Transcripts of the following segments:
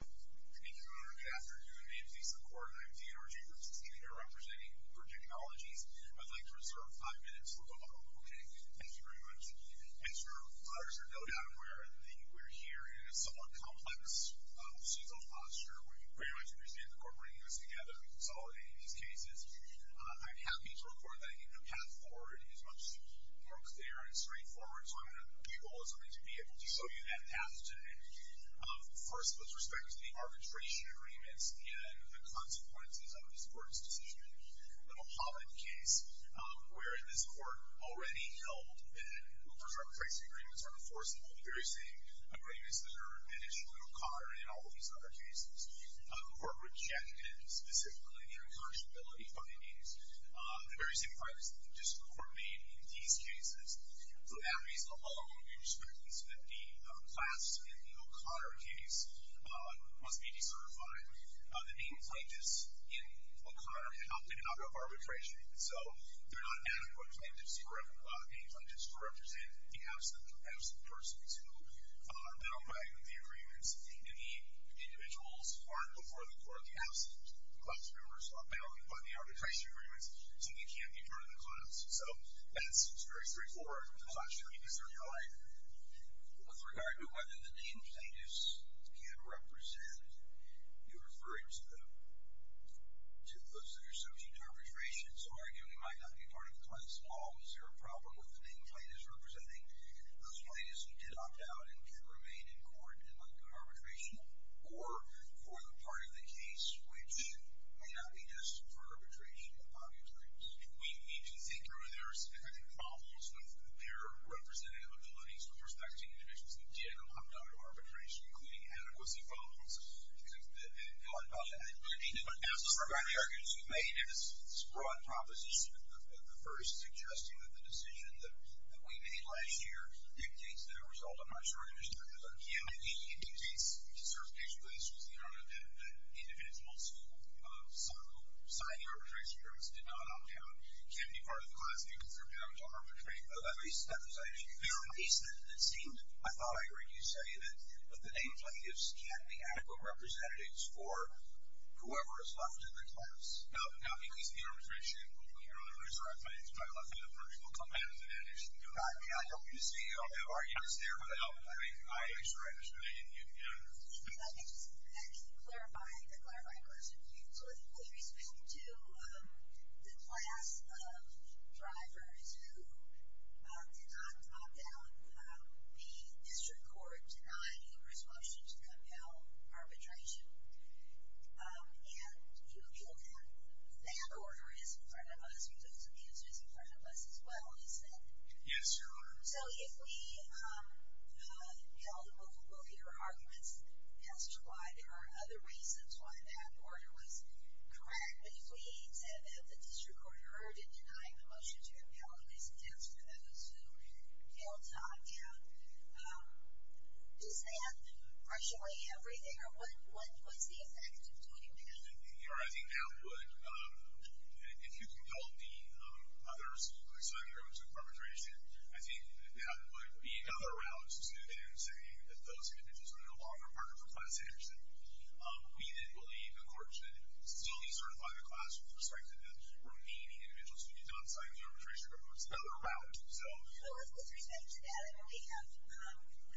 Thank you, Your Honor, good afternoon. My name's Lisa Kort, and I'm DNRG, which is the committee here representing for technologies. I'd like to reserve five minutes. We'll go on, okay? Thank you very much. As far as you're no doubt aware, we're here in a somewhat complex legal posture, where you pretty much understand the court bringing us together and consolidating these cases. I'm happy to report that I think the path forward is much more clear and straightforward, so I'm gonna leave all this with me to be able to show you that path today. First, with respect to the arbitration agreements and the consequences of this court's decision, the Mahomet case, where this court already held that Looper's arbitration agreements are enforceable, the very same agreements that are in issue in O'Connor and in all of these other cases, were rejected, specifically, the incarcerability findings, the very same findings that the district court made in these cases. So that reason alone, we respect the fact that the class in the O'Connor case must be decertified. The main plaintiffs in O'Connor have not been allowed arbitration, so they're not adequate plaintiffs to represent the absent persons who are bound by the agreements, and many individuals aren't before the court, the absent class members are bound by the arbitration agreements, so they can't be part of the class. So that's very straightforward. I'm not sure if you can hear me all right. With regard to whether the main plaintiffs can represent, you're referring to those that are subject to arbitration, so arguably might not be part of the class at all. Is there a problem with the main plaintiffs representing those plaintiffs who did opt out and can remain in court and undergo arbitration, or for the part of the case which may not be destined for arbitration upon your choice? We need to figure, there are some kind of problems with their representative abilities with respect to individuals that did opt out of arbitration, including adequacy problems. And I think we need to look at some of the arguments we've made in this broad proposition of the first, suggesting that the decision that we made last year indicates that it will result in much greater stability. It indicates certification of the instruments in order that individuals who sign the arbitration agreements did not opt out can be part of the class if individuals are bound to arbitrate. At least that's what I think. At least it seemed, I thought I heard you say that that the main plaintiffs can't be adequate representatives for whoever is left in the class. No, because the arbitration, you're only resurrecting it, so it's probably less of an approach. We'll come back to that issue. I mean, I don't mean to say you don't have arguments there, but I mean, I actually write this really in-depth. Let me just clarify the clarifying question for you. So, with respect to the class of drivers who did not opt out, the district court denied you the responsibility to compel arbitration, and you feel that that order is in front of us, or that the answer is in front of us as well, isn't it? Yes. So, if we, you know, we'll hear arguments as to why there are other reasons why that order was correct, but if we said that the district court heard in denying the motion to compel it is against those who failed to opt out, is that partially everything, or what was the effect of doing that? You know, I think that would, if you can help me, others who, like Sonny Robbins, who arbitrated, I think that that would be another round of scrutiny in saying that those individuals are no longer partners with Class Anderson. We then believe the court should still decertify the class with respect to the remaining individuals who did not sign the arbitration reports. Another round. So. So, with respect to that, I mean, we have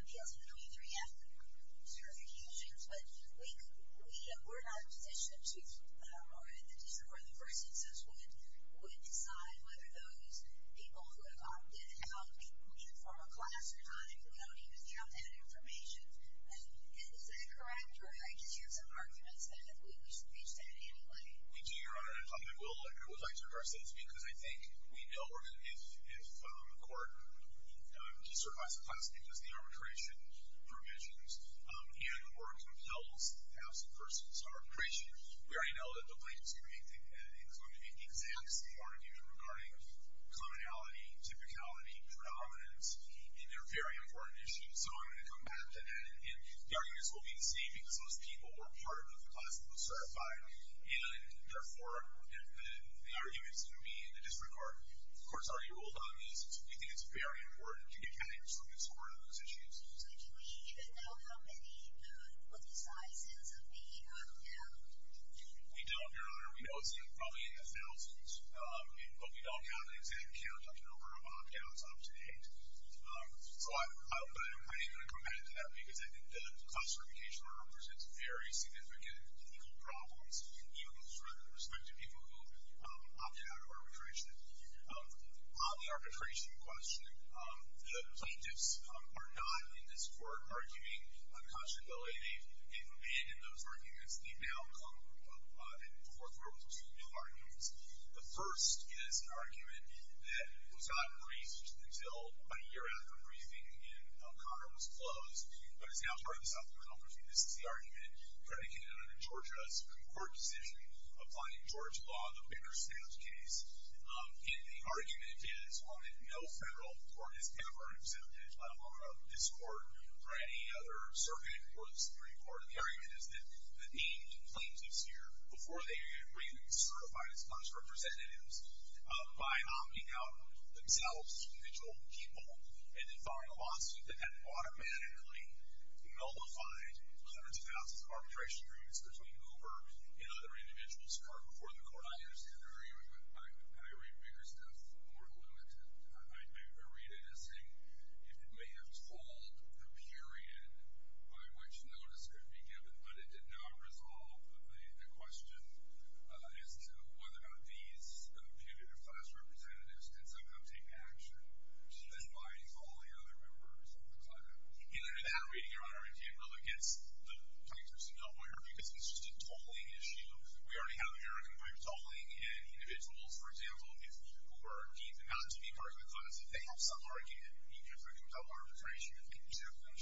appeals in the 23F certifications, but we're not in a position to, or the district court, in the first instance, would decide whether those people who have opted out, either from a class or not, if we don't even have that information, is that correct, or I guess you have some arguments that if we were to reach that anyway? We do, Your Honor, and I would like to address this, because I think we know if the court decertifies the class because of the arbitration provisions, and or compels the absent persons arbitration, we already know that the plaintiff's going to be the exact same argument regarding commonality, typicality, predominance, and they're very important issues. So, I'm going to come back to that, and the arguments will be the same, because those people were part of the class that was certified, and therefore, the argument's going to be in the district court. The court's already ruled on this, so we think it's very important to get candidates from this court on those issues. So, do we even know how many, what the sizes of the opt-out? We don't, Your Honor. We know it's probably in the thousands, but we don't have an exact count of the number of opt-outs up to date. So, I am going to come back to that, because I think the class certification order presents very significant legal problems, even with respect to people who opted out of arbitration. On the arbitration question, the plaintiffs are not, in this court, arguing unconstitutability. They've abandoned those arguments. They've now come and forth with two new arguments. The first is an argument that was not raised until about a year after the briefing, and Conner was closed, but is now part of the South Carolina Court of Appeal. This is the argument predicated on a Georgia Supreme Court decision applying Georgia law, the Bigger Stamps case, and the argument is, while no federal court has ever exempted a law from this court or any other circuit or the Supreme Court, the argument is that the named plaintiffs here, before they are even certified as class representatives, by opting out themselves, individual people, and then filing a lawsuit that had automatically nullified hundreds of thousands of arbitration agreements between Hoover and other individuals before the court. I understand the argument, but I read Bigger Stamps more limited. I read it as saying, if it may have told the period by which notice could be given, but it did not resolve the question as to whether or not these competitive class representatives could somehow take action, then why follow the other members of the client? And under that reading, your Honor, it really gets the plaintiffs in the water because it's just a tolling issue. We already have American pipe tolling, and individuals, for example, if who are deemed not to be part of the class, if they have some argument, even if they're compelled arbitration, if they exempt them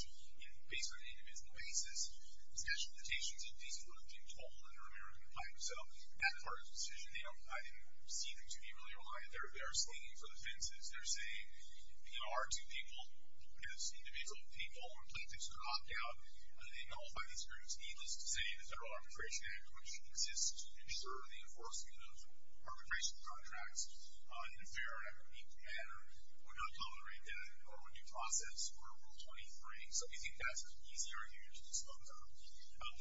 based on an individual basis, special notations of these would have been tolled under American pipe. So that part of the decision, I didn't see them to be really reliant. They're stinging for the fences. They're saying, you know, our two people, as individual people, when plaintiffs could opt out, they nullify these groups, needless to say, the Federal Arbitration Act, which exists to ensure the enforcement of arbitration contracts in a fair and equitable manner, would not tolerate that, or would due process Rule 23. So I think that's an easy argument to dispense on.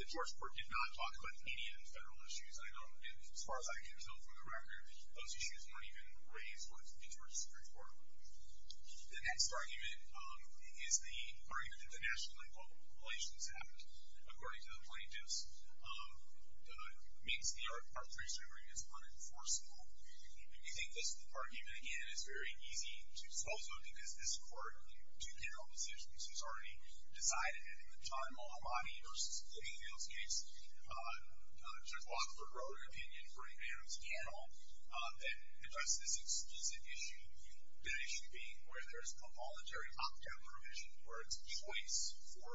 The Georgia court did not talk about any of the federal issues. I don't, as far as I can tell from the record, those issues weren't even raised with the Georgia Supreme Court. The next argument is the argument that the National and Public Relations Act, according to the plaintiffs, makes the arbitration agreements unenforceable. We think this argument, again, is very easy to dispose of, because this court, in two general decisions, has already decided that in the time of Omadi v. Giddingfield's case, Judge Wadsworth wrote an opinion for a panel, that addressed this explicit issue, the issue being where there's a voluntary opt-out provision, where it's a choice for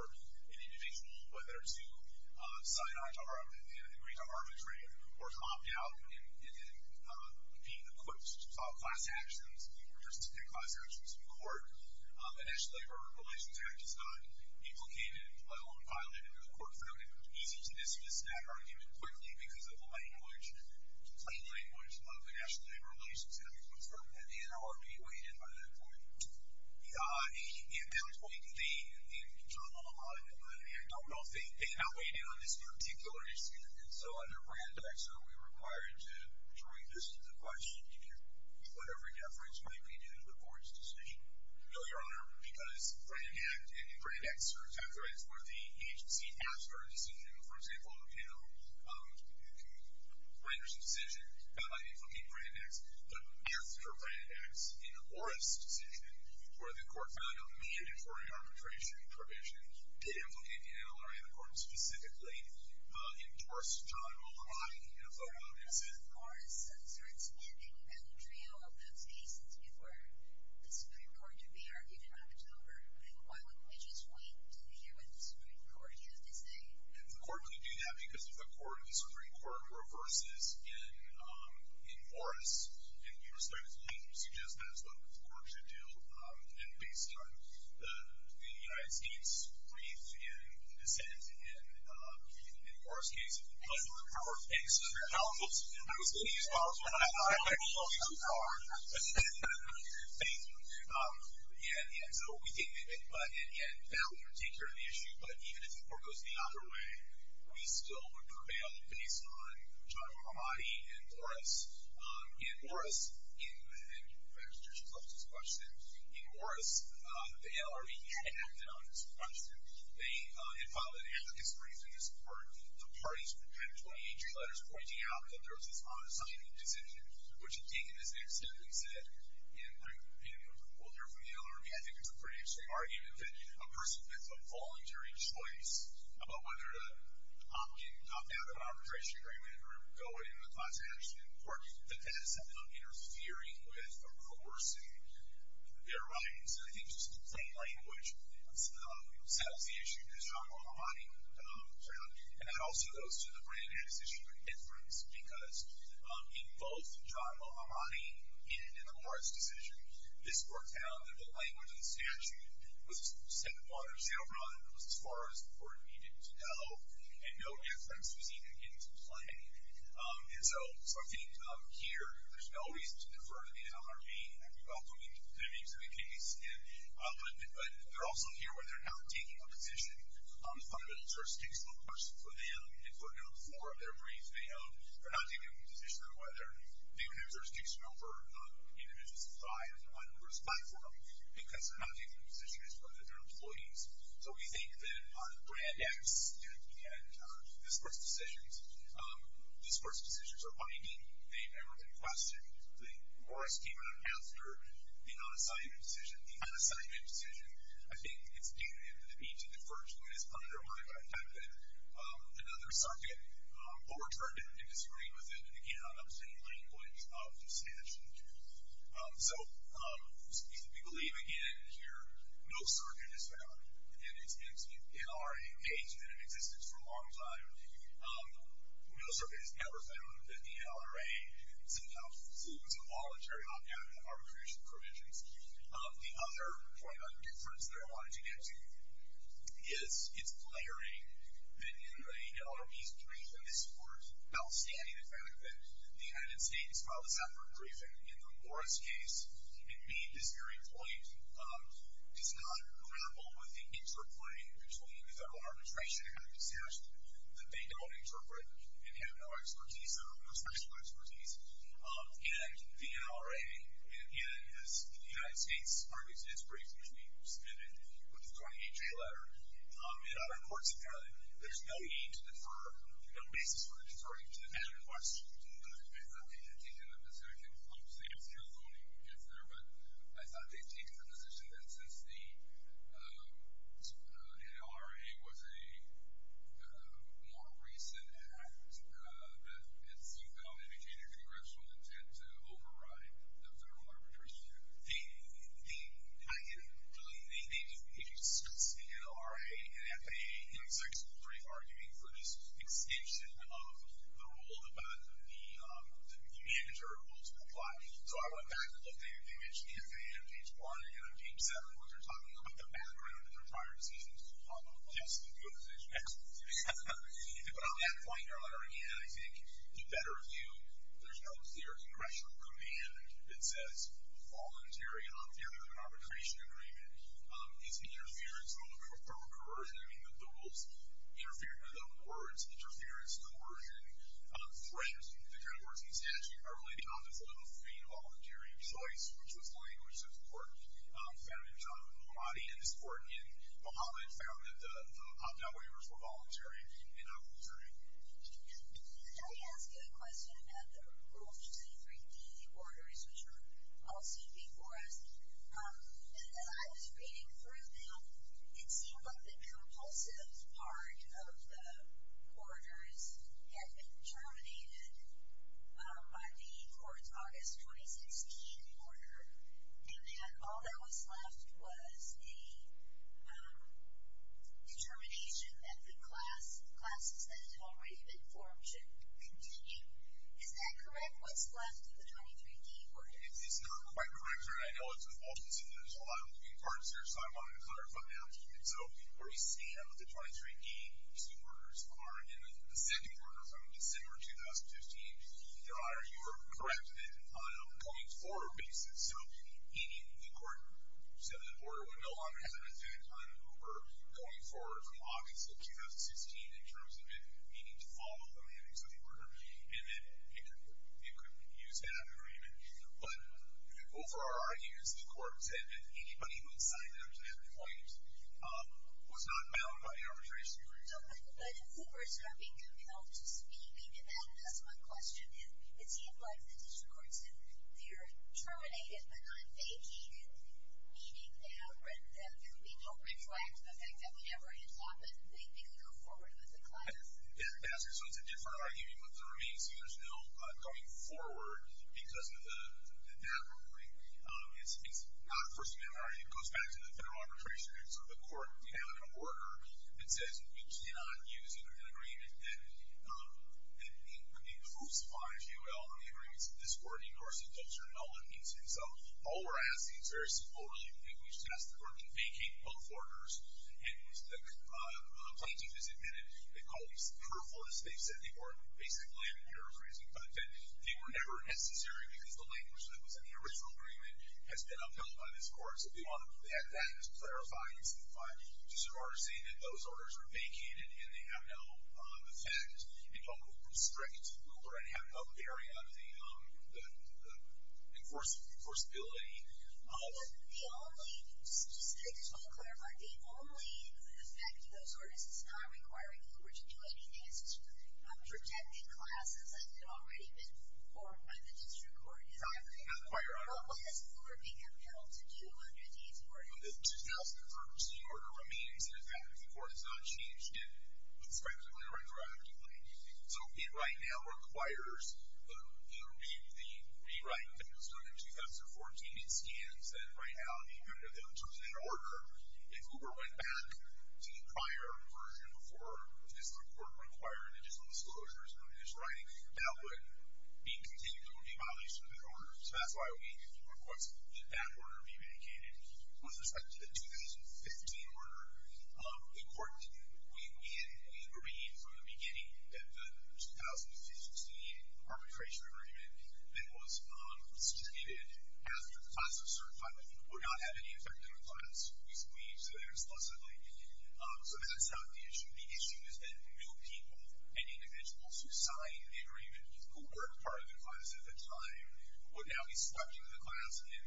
an individual, whether to sign on to an agreement of arbitration, or to opt out and be equipped to solve class actions, or just take class actions in court. And as the Labor Relations Act has gotten implicated in my own pilot, and the court found it easy to dismiss that argument quickly, because of the language, the plain language of the National Labor Relations Act, which was written at the NLRB, weighed in by that point. In between the, in the, John Omadi v. Brannan Act, I don't know if they outweighed it on this particular issue. And so, under Brannan Act, certainly, we're required to draw a distance of question to whatever deference might be due to the court's decision. No, Your Honor, because Brannan Act and the Brannan Act certs were the agency after a decision, for example, you know, renders a decision that might implicate Brannan Acts, but after Brannan Acts, in Orris' decision, where the court found a mandatory arbitration provision to implicate the NLRB, the court specifically endorsed John Omadi, you know, vote on it, and said. Orris' certs meant that you got a trio of those cases before the Supreme Court could be argued in October. And why wouldn't we just wait to hear what the Supreme Court has to say? And the court would do that because if the Supreme Court reverses in Orris, and you were starting to suggest that's what the court should do, and based on the United States brief and the sentence in Orris' case, it would be much more powerful. And this is very powerful. I was going to use powerful, but I don't know if it's too powerful. But it's definitely more powerful. Yeah, and so we think that would take care of the issue, but even if the court goes the other way, we still would prevail based on John Omadi and Orris. In Orris, and Professor, she's left this question. In Orris, the NLRB acted on this question. They had filed an advocacy brief in this court. The parties prepared 28 g letters pointing out that there was this unassigned decision, which had taken this next step, and they said, and we'll hear from the NLRB, I think it's a pretty interesting argument that a person makes a voluntary choice about whether to opt out of an arbitration agreement or go in with lots of action in court, that that's interfering with a course in their rights. And I think just in plain language, that was the issue that John Omadi found, and that also goes to the brand-next-issue inference because in both John Omadi and in the Orris decision, this court found that the language of the statute was set upon or set upon as far as the court needed to go, and no inference was even getting to play. And so I think here, there's no reason to defer to the NLRB. I mean, we've all been victims of the case, and I'll admit, but they're also here where they're not taking a position on the fundamental jurisdiction of a person for them, and footnote four of their brief, they're not taking a position on whether the universe gives no for individuals to thrive on a diverse platform because they're not taking a position as to whether they're employees. So we think that on brand-next and this court's decisions, this court's decisions are binding. They've never been questioned. The Orris came out after the non-assignment decision. The non-assignment decision, I think, it's due to the need to defer to it as part of their modified template. Another circuit overturned it and disagreed with it, and again, on upsetting landmines of the statute. So we believe, again, here, no circuit is found, and it's been, NLRA has been in existence for a long time. No circuit is ever found that the NLRA somehow flew into voluntary arbitration provisions. The other point on difference that I wanted to get to is it's glaring that in the NLRA's brief in this court, outstanding the fact that the United States filed a separate briefing in the Morris case. It made this very point, does not grapple with the interplay between federal arbitration and the statute that they don't interpret and have no expertise, or no special expertise. And the NLRA, and as the United States argues in its brief, which we submitted with the 28-J letter, in other courts in Cali, there's no need to defer, no basis for deferring to the federal courts. I thought they had taken the position, I'm seeing as Carol Coney gets there, but I thought they'd taken the position that since the NLRA was a more recent act that it seemed to have maintained a congressional intent to override the federal arbitration. They, I didn't really, if you discuss the NLRA and FAA in its actual brief argument, we're just interested of the rule about the mandatory rules that apply. So I went back and looked at it, they mentioned the FAA on page one and on page seven where they're talking about the background of their prior decisions on just the new decision. But on that point in their letter again, I think in a better view, there's no clear congressional command that says voluntary and non-fearful arbitration agreement is interference or coercion. I mean, the rules interfere with other words, interference, coercion, threats, the kind of words in the statute are related to non-disciplinary and non-voluntary choice, which was the language that the court found in John Mahoney, and this court in Muhammad found that the opt-out waivers were voluntary and non-proliferative. Did I ask you a question about the Rule 63D orders which were all seen before us? As I was reading through them, it seemed like the compulsive part of the orders had been terminated by the court's August 2016 order and that all that was left was a determination that the classes that had already been formed should continue. Is that correct? What's left of the 23D order? It's not quite correct, and I know it's a false decision. There's a lot of moving parts here, so I wanted to clarify that. And so, where we stand with the 23D orders are in the second order from December 2015. Your Honor, you were correct that on a point forward basis, so the court said that the order would no longer have an effect on who were going forward from August of 2016 in terms of it needing to follow the mandates of the order and that it couldn't use that agreement. But, over our years, the court said that anybody who had signed up to that point was not bound by the arbitration agreement. So, but who was having compelled to speak? And that is my question. It seemed like the district courts if they're terminated but not vacated, meaning they have written them, they don't reflect the fact that whenever it's offered, they can go forward with the class? Yeah, so it's a different argument with the remains. So there's no going forward because of that ruling. It's not a first amendment argument. It goes back to the federal arbitration agreement. So the court, we have an order that says we cannot use an agreement that crucifies UL and the agreements of this court. And, of course, it does here. No one needs it. So, all we're asking is very simple really. We just ask the court to vacate both orders. And the plaintiff has admitted they called these careful as they said they were basically paraphrasing. But that they were never necessary because the language that was in the original agreement has been upheld by this court. So we want to have that clarified and simplified to so far as saying that those orders are vacated and they have no effect. We don't restrict UL or have no barrier of the enforceability of. The only, just to clarify, the only effect of those orders is not requiring Uber to do anything. It's just protected classes that had already been formed by the district court. Right, not required. What has Uber become held to do under these orders? The 2013 order remains in effect. The court has not changed it conscriptively or interactively. So it right now requires the rewrite that was done in 2014. It scans that right now, the effect of that in terms of that order. If Uber went back to the prior version before the district court required additional disclosures under this writing, that would be continued. It would be abolished from that order. So that's why we request that that order be vacated. With respect to the 2015 order, the court, we agreed from the beginning that the 2015 arbitration agreement that was submitted after the class was certified would not have any effect on a class. We said that explicitly. So that's not the issue. The issue is that new people and individuals who signed the agreement, who weren't part of the class at the time, would now be selected in the class. And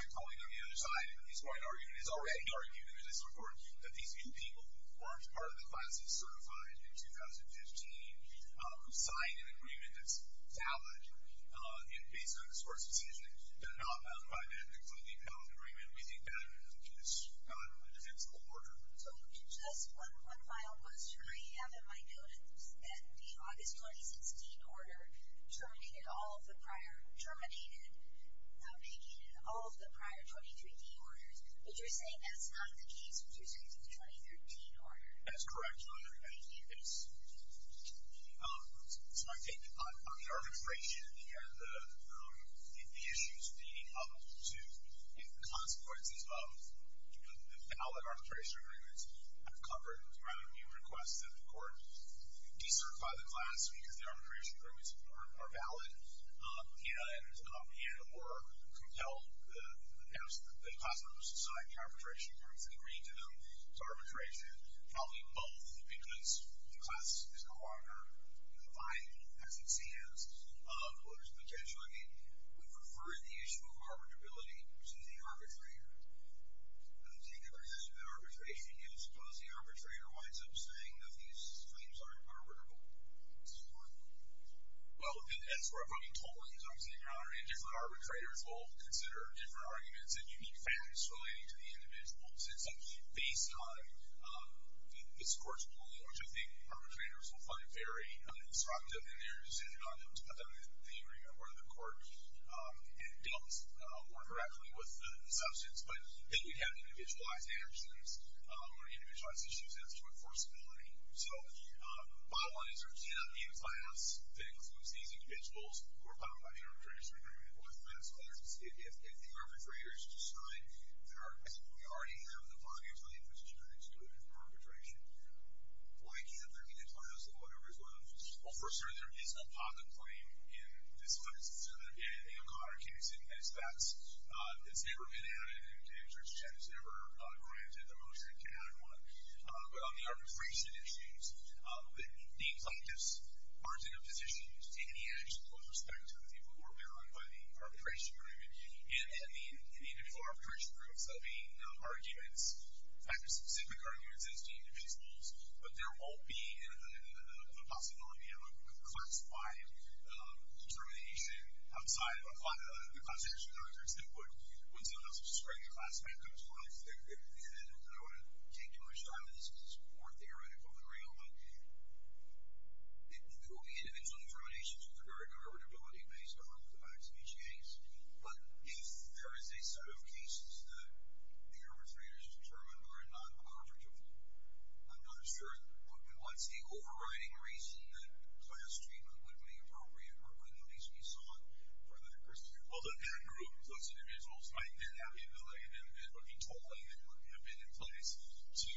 my colleague on the other side, at this point, is already arguing in this report that these new people weren't part of the class that was certified in 2015, who signed an agreement that's valid and based on the source decision, they're not bound by that, including the valid agreement. We think that is not an admissible order. So just one file goes to 3.7. I noted that the August 2016 order terminated all of the prior, prior 23D orders, but you're saying that's not the case with your 2013 order. That's correct, Your Honor, and it is. So I think on the arbitration and the issues leading up to the consequences of the valid arbitration agreements, I've covered rather a few requests that the court decertify the class because the arbitration agreements are valid and or compel the class members to sign the arbitration agreements and agree to them as arbitration. Probably both because the class is no longer defined as it stands, or there's potentially, we prefer the issue of arbitrability to the arbitrator. The particular issue of arbitration is because the arbitrator winds up saying that these claims aren't arbitrable. Your Honor. Well, as we're approving total claims, obviously, Your Honor, and different arbitrators will consider different arguments and unique facts relating to the individual. Since based on this court's ruling, which I think arbitrators will find very disruptive in their decision on the agreement where the court dealt more directly with the substance, but then we'd have individualized antecedents or individualized issues as to enforceability. So, my one is there cannot be a class that includes these individuals who are found by the arbitration agreement or the class, but there's a specific case if the arbitrator is to sign, there are cases where we already have the body of the position that it's due for arbitration. Why can't there be a class of whatever's left? Well, first, sir, there is no pocket claim in this case. So, again, in the O'Connor case, even if that's, it's never been added and Judge Chen has never granted the motion to add one. But on the arbitration issues, the plaintiffs aren't in a position to take any action with respect to the people who are barred by the arbitration agreement and the individual arbitration groups. I mean, arguments, in fact, specific arguments as to individuals, but there won't be a possibility of a class-wide determination outside of the class action doctrine's input when someone else is spreading a class-backed controversy. And I don't want to take too much time on this because it's more theoretical than real, but it will be individual determinations with regard to arbitrability based on the facts of each case. But if there is a set of cases that the arbitrators determined are not arbitrable, I'm not sure what's the overriding reason that class treatment wouldn't be appropriate or wouldn't at least be sought for another person to do it. Well, the bad group, those individuals might then have the ability that would be totally, that would have been in place to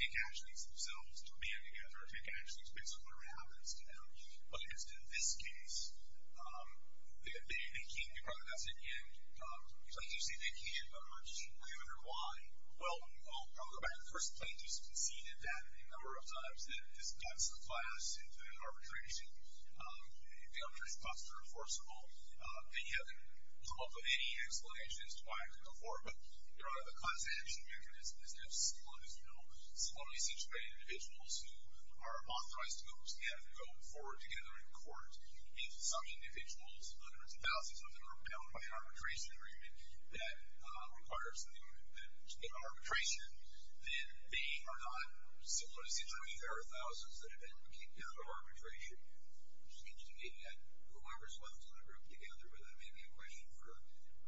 take actions themselves, to band together, take actions based on whatever happens to them. But as to this case, they can't be protested, and as you say, they can't emerge. I wonder why. Well, I'll go back. The first plaintiff's conceded that a number of times that this cuts the class into an arbitration. The other response to enforceable. They haven't come up with any explanations as to why it couldn't go forward. But there are the class action mechanism is to have slowly situated individuals who are authorized to go forward together in court. If some individuals, hundreds of thousands of them, are repelled by an arbitration agreement that requires that in arbitration, then they are not, similar to the situation, there are thousands that have been kicked out of arbitration. It seems to me that whoever's left in that group together, whether that may be a question for a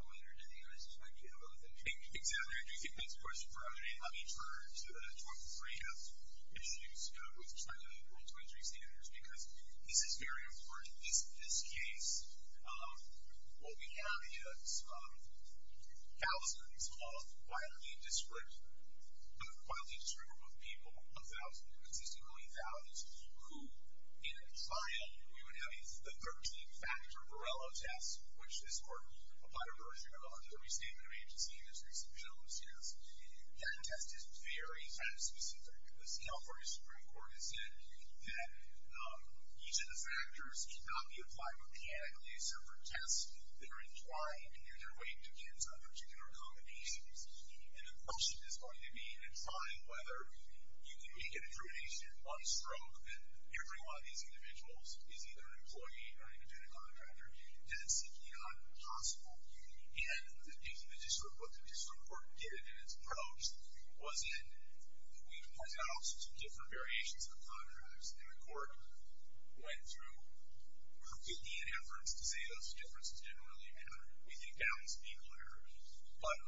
winner in the U.S. might be a little bit. Exactly. I do think that's a question for other day. Let me turn to the 23 of issues with respect to the World 23 standards because this is very important. This case, what we have is thousands of wildly discreditable people, a thousand, consistently thousands, who in a trial, we would have a 13 factor Borrello test, which this court applied a version of under the Restatement of Agency and there's recent shows, yes. That test is very, kind of specific. The California Supreme Court has said that each of the factors cannot be applied mechanically, except for tests that are entwined and their weight depends on particular accommodations. And the question is going to be in trying whether you can make an determination on a stroke that every one of these individuals is either an employee or even a contractor, that's a beyond possible. And in the district, what the district court did in its approach was it, we pointed out all sorts of different variations of the contracts and the court went through completely in efforts to say those differences didn't really matter. We think balance be clear. But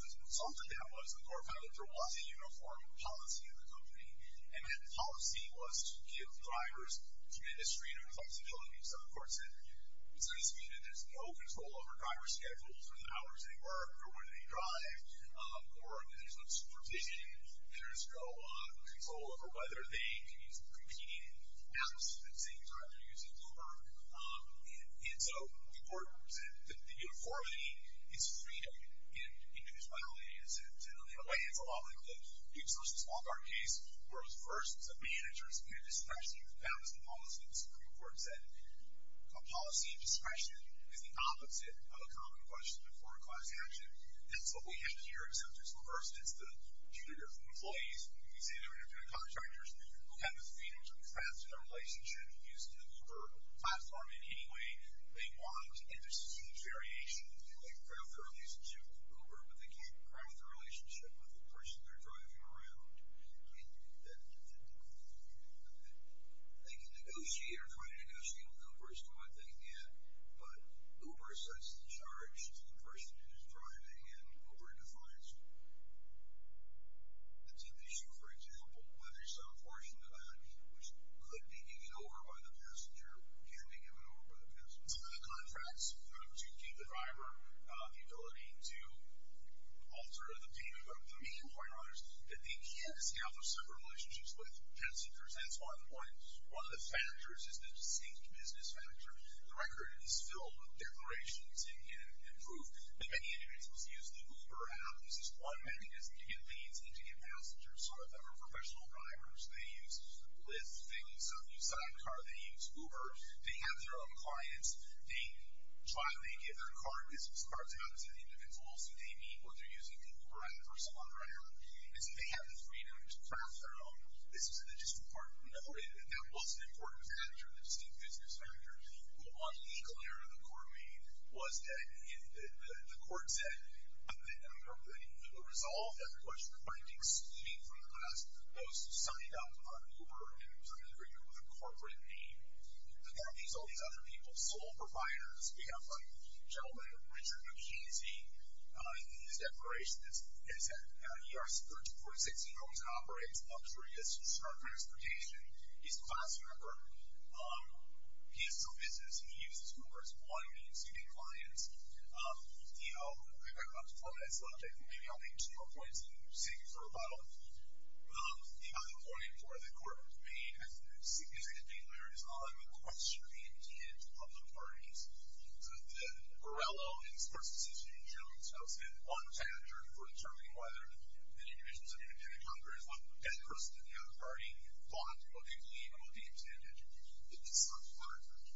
the result of that was, the court found that there was a uniform policy in the company and that policy was to give drivers to administrative flexibility. So the court said, it's not as if there's no control over driver schedules or the hours they work or when they drive or if there's no supervision, there's no control over whether they can use the competing apps that say you're either using Uber. And so the court said that the uniformity is freedom in individuality. In a way, it's a lot like the huge versus small car case where it was first the managers and especially the balance of policy and the Supreme Court said, a policy of discretion is the opposite of a common question before a class action. That's what we have here in substance of first, it's the computer employees. We can say they're independent contractors who have the freedom to invest in a relationship using the Uber platform in any way they want and there's a huge variation. They might grow their relationship with Uber but they can't grow their relationship with the person they're driving around. And that they can negotiate or try to negotiate with Uber is still a thing yet but Uber sets the charge to the person who's driving and Uber defines it. The tip issue, for example, whether some portion of the value which could be given over by the passenger can be given over by the passenger. The contracts to give the driver the ability to alter the payment of the main point orders that they can't scale for several relationships with passengers, that's one point. One of the factors is the distinct business factor. The record is filled with declarations and proof that many individuals use the Uber app. This is one mechanism to get leads and to get passengers. Some of them are professional drivers, they use Lyft, they use some new sidecar, they use Uber, they have their own clients, they try, they give their car business cards out to the individuals that they meet when they're using the Uber app or some other app and so they have the freedom to craft their own. This is the distinct part. The other way that that was an important factor, the distinct business factor on the legal area of the court meeting was that the court said that the resolve that the court was requesting excluding from the class, those signed up on Uber and some of the agreement was a corporate name. But then there's all these other people, sole providers. We have a gentleman, Richard McKinsey, his declaration is that he owns and operates a three-distance car transportation. He's a class member, he has some business, he uses Uber as one of the exceeding clients. You know, I forgot to quote that subject, maybe I'll make two more points and save you for a bottle. The other point for the court to make as a significant dealer is on the question of the intent of the parties. So the Varelo in this court's decision in June talks about one factor for determining whether the individuals under the pentagon are as welcome as the rest of the other party, bought, what they believe, and what they intended. It's the sub-factor.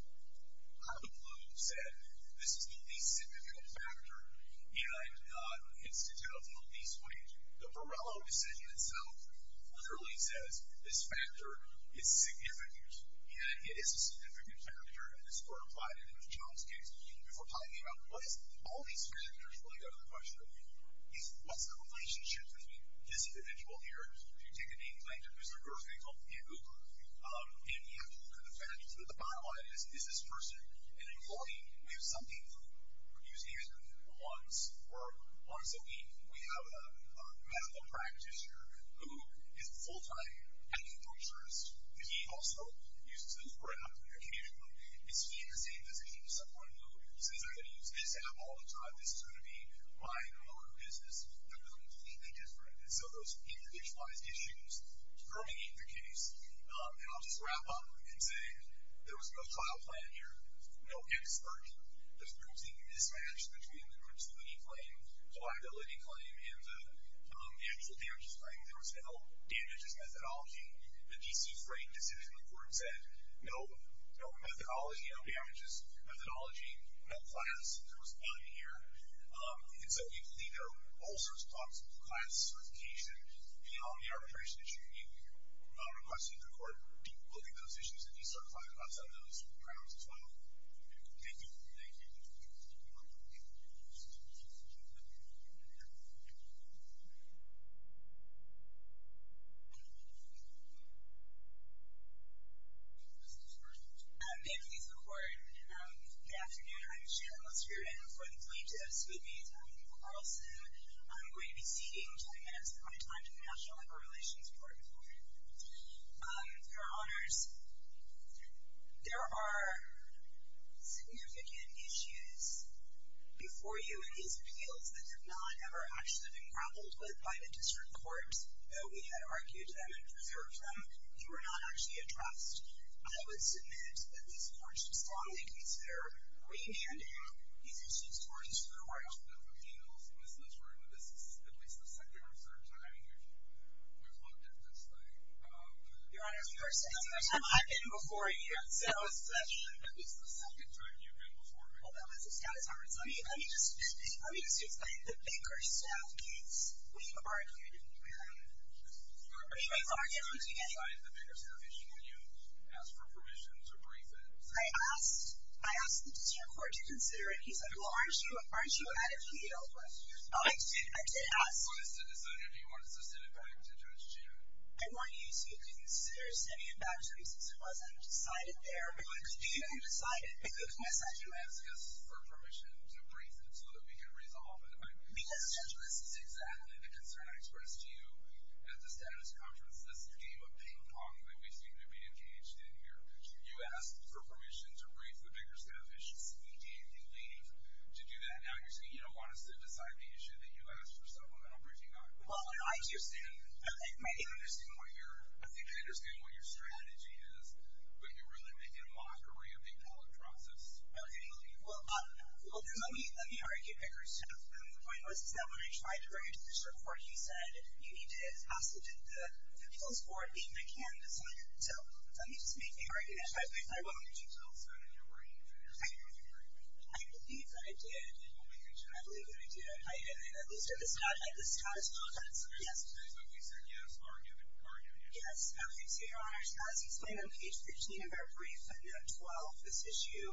How the blue said, this is the least significant factor and it's to tell the least wage. The Varelo decision itself literally says this factor is significant and it is a significant factor in this court applied it in the Jones case if we're talking about what is, all these factors really go to the question of what's the relationship between this individual here, if you take a name, like there's a girl's name called Pamuka, and you have to look at the fact that the bottom line is, is this person an employee? We have some people who use the internet once a week. We have a medical practitioner who is a full-time acupuncturist. He also uses this for an application. Is he in the same position as someone who says, I'm gonna use this app all the time, this is gonna be my own business? They're completely different. And so those individualized issues permeate the case. And I'll just wrap up and say, there was no trial plan here, no expert, there's probably mismatch between the creativity claim, pliability claim, and the actual damages claim. There was no damages methodology. The DC Freight decision, the court said, no methodology, no damages methodology, no class, there was none here. And so we believe they're also responsible for class certification beyond the arbitration issue. We request that the court look at those issues and decertify them outside of those grounds as well. Thank you. Thank you. Thank you. May I please record, good afternoon, I'm Shannon Luskier, and before the plaintiff, excuse me, I'm Nicole Carlson. I'm going to be ceding 20 minutes of my time to the National Labor Relations Court. Your Honors, there are significant issues before you in these appeals that have not ever actually been grappled with by the district courts, though we had argued them and preserved them, they were not actually addressed. I would submit that these courts strongly consider remanding these issues towards the court. I'm the plaintiff of Penal Solicitory, and this is at least the second or third time you've looked at this thing. Your Honors, you are saying it's the first time I've been before you. Yes. That was the second time you've been before me. Well, that was the status of it. So let me just explain the Baker Staff case. We've argued, we've argued, we've argued together. I asked the district court to consider it. He said, well, aren't you out of appeal? Oh, I did ask. I want you to consider sending it back to me since it wasn't decided there, but you decided, because you asked us for permission to brief it so that we could resolve it. Because this is exactly the concern I expressed to you at the status conference. This is a game of ping pong that we seem to be engaged in here. You asked for permission to brief the Baker Staff issues. He gave you leave to do that. Now you're saying you don't want us to decide the issue that you asked for supplemental briefing on. Well, I understand what you're, I think I understand what your strategy is, but you're really making a mockery of the appellate process. Okay, well, let me argue Baker Staff. The point was that when I tried to bring it to the district court, he said, you need to pass it to the appeals board even if I can't decide it. So, let me just make the argument. I won't. Did you tell us that in your writing that you're saying that you've already briefed it? I believe that I did. You believe that you did? I believe that I did. I did. At least at the status conference. Yes. At least when you said yes, argued, argued, yes. Yes. Okay, so your honors, as explained on page 13 of our brief, note 12, this issue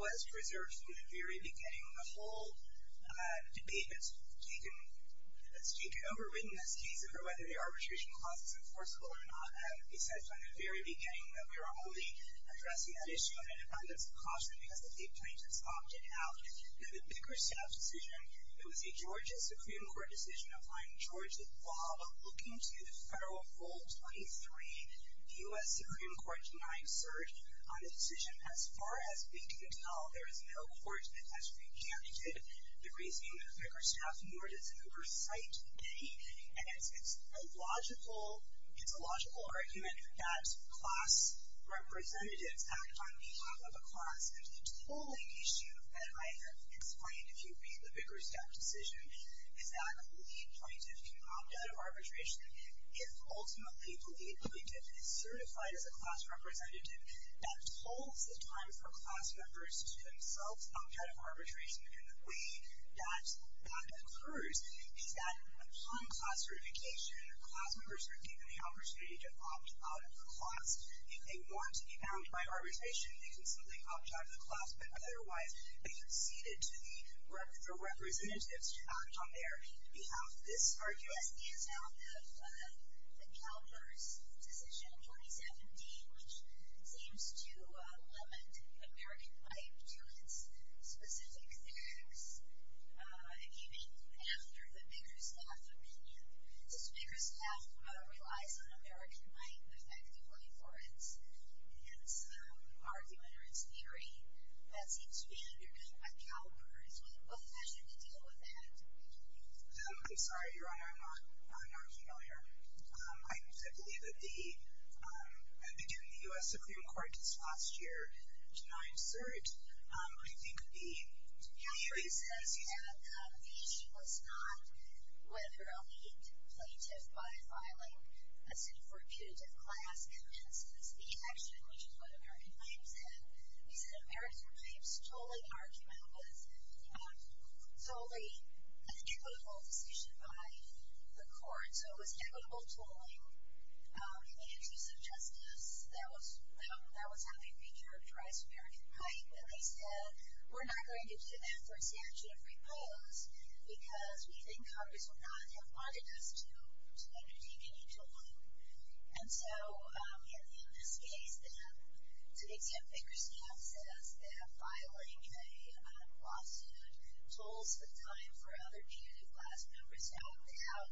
was preserved from the very beginning. The whole debate that's taken over in this case over whether the arbitration clause is enforceable or not, that would be said from the very beginning that we were only addressing that issue on independence of caution because the state plaintiffs opted out. Now, the Baker Staff decision, it was a Georgia Supreme Court decision applying Georgia law while looking to the federal rule 23, U.S. Supreme Court denying cert on the decision. As far as we can tell, there is no court that has recanted it. They're raising the Baker Staff in order to oversight any, and it's a logical argument that class representatives act on behalf of a class, and the tolling issue that I have explained, if you read the Baker Staff decision, is that the lead plaintiff can opt out of arbitration if ultimately the lead plaintiff is certified as a class representative. That tolls the time for class members to themselves opt out of arbitration, and the way that that occurs is that upon class certification, class members are given the opportunity to opt out of the clause. If they want to be bound by arbitration, they can simply opt out of the clause, but otherwise, they conceded to the representatives to act on their behalf. This argument. Yes, the endowment of the CalPERS decision in 2017, which seems to limit American might to its specific theories, even after the Baker Staff opinion. Since Baker Staff relies on American might, effectively, for its argument or its theory, that seems to be undercut by CalPERS. What fashion to deal with that? I'm sorry, Your Honor, I'm not familiar. I believe that the, I think in the U.S. Supreme Court this last year, did not assert, I think the theory says that the issue was not whether a lead plaintiff by filing a suit for a punitive class commences the action, which is what American Might said. We said American Might's tolling argument was a totally equitable decision by the court, and so it was equitable tolling. In the interest of justice, that was how they featured Rice, American Might, but they said, we're not going to do that for a statute of repose, because we think Congress would not have wanted us to undertake any tolling. And so, in this case, then, to exempt Baker Staff, says that filing a lawsuit tolls the time for other punitive class members to opt out,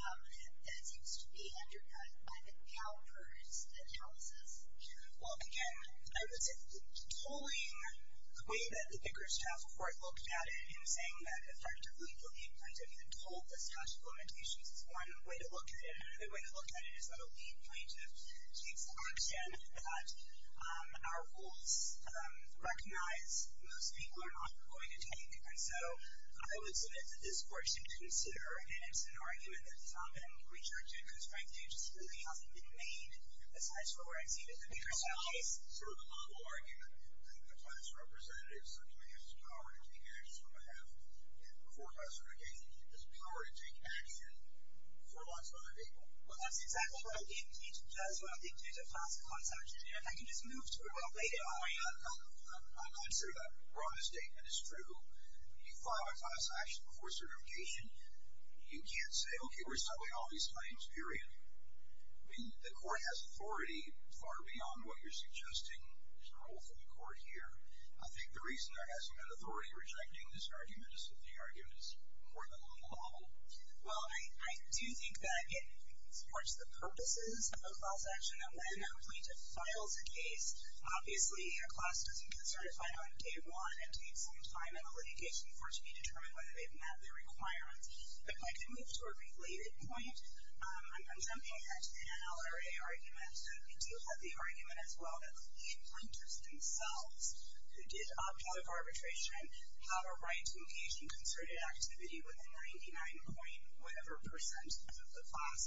and that seems to be undercut by the CalPERS analysis. Well, again, I would say that the tolling, the way that the Baker Staff Court looked at it in saying that, effectively, the lead plaintiff had tolled the statute of limitations is one way to look at it. Another way to look at it is that a lead plaintiff takes the action that our rules recognize most people are not going to take. And so, I would submit that this Court should consider, and it's an argument that's not been researched into, because frankly, it just really hasn't been made, asides from where it seems that the Baker Staff case. So, the model argument that the class representatives have to make is the power to take actions on behalf, and before class certification, is the power to take action for lots of other people. Well, that's exactly what a plaintiff does when a plaintiff takes a class consultation, and if I can just move to a related area. I'm not sure that the wrong statement is true. You file a class action before certification, you can't say, okay, we're settling all these claims, period. I mean, the Court has authority far beyond what you're suggesting is the role for the Court here. I think the reason there hasn't been authority rejecting this argument is that the argument is more than a model. Well, I do think that it supports the purposes of a class action, and when a plaintiff files a case, obviously, a class doesn't get certified on day one and take some time in the litigation for it to be determined whether they've met their requirements, but if I could move to a related point, I'm jumping at an NLRA argument. We do have the argument, as well, that the plaintiffs themselves, who did opt out of arbitration, have a right to occasion concerted activity with a 99.whatever percent of the class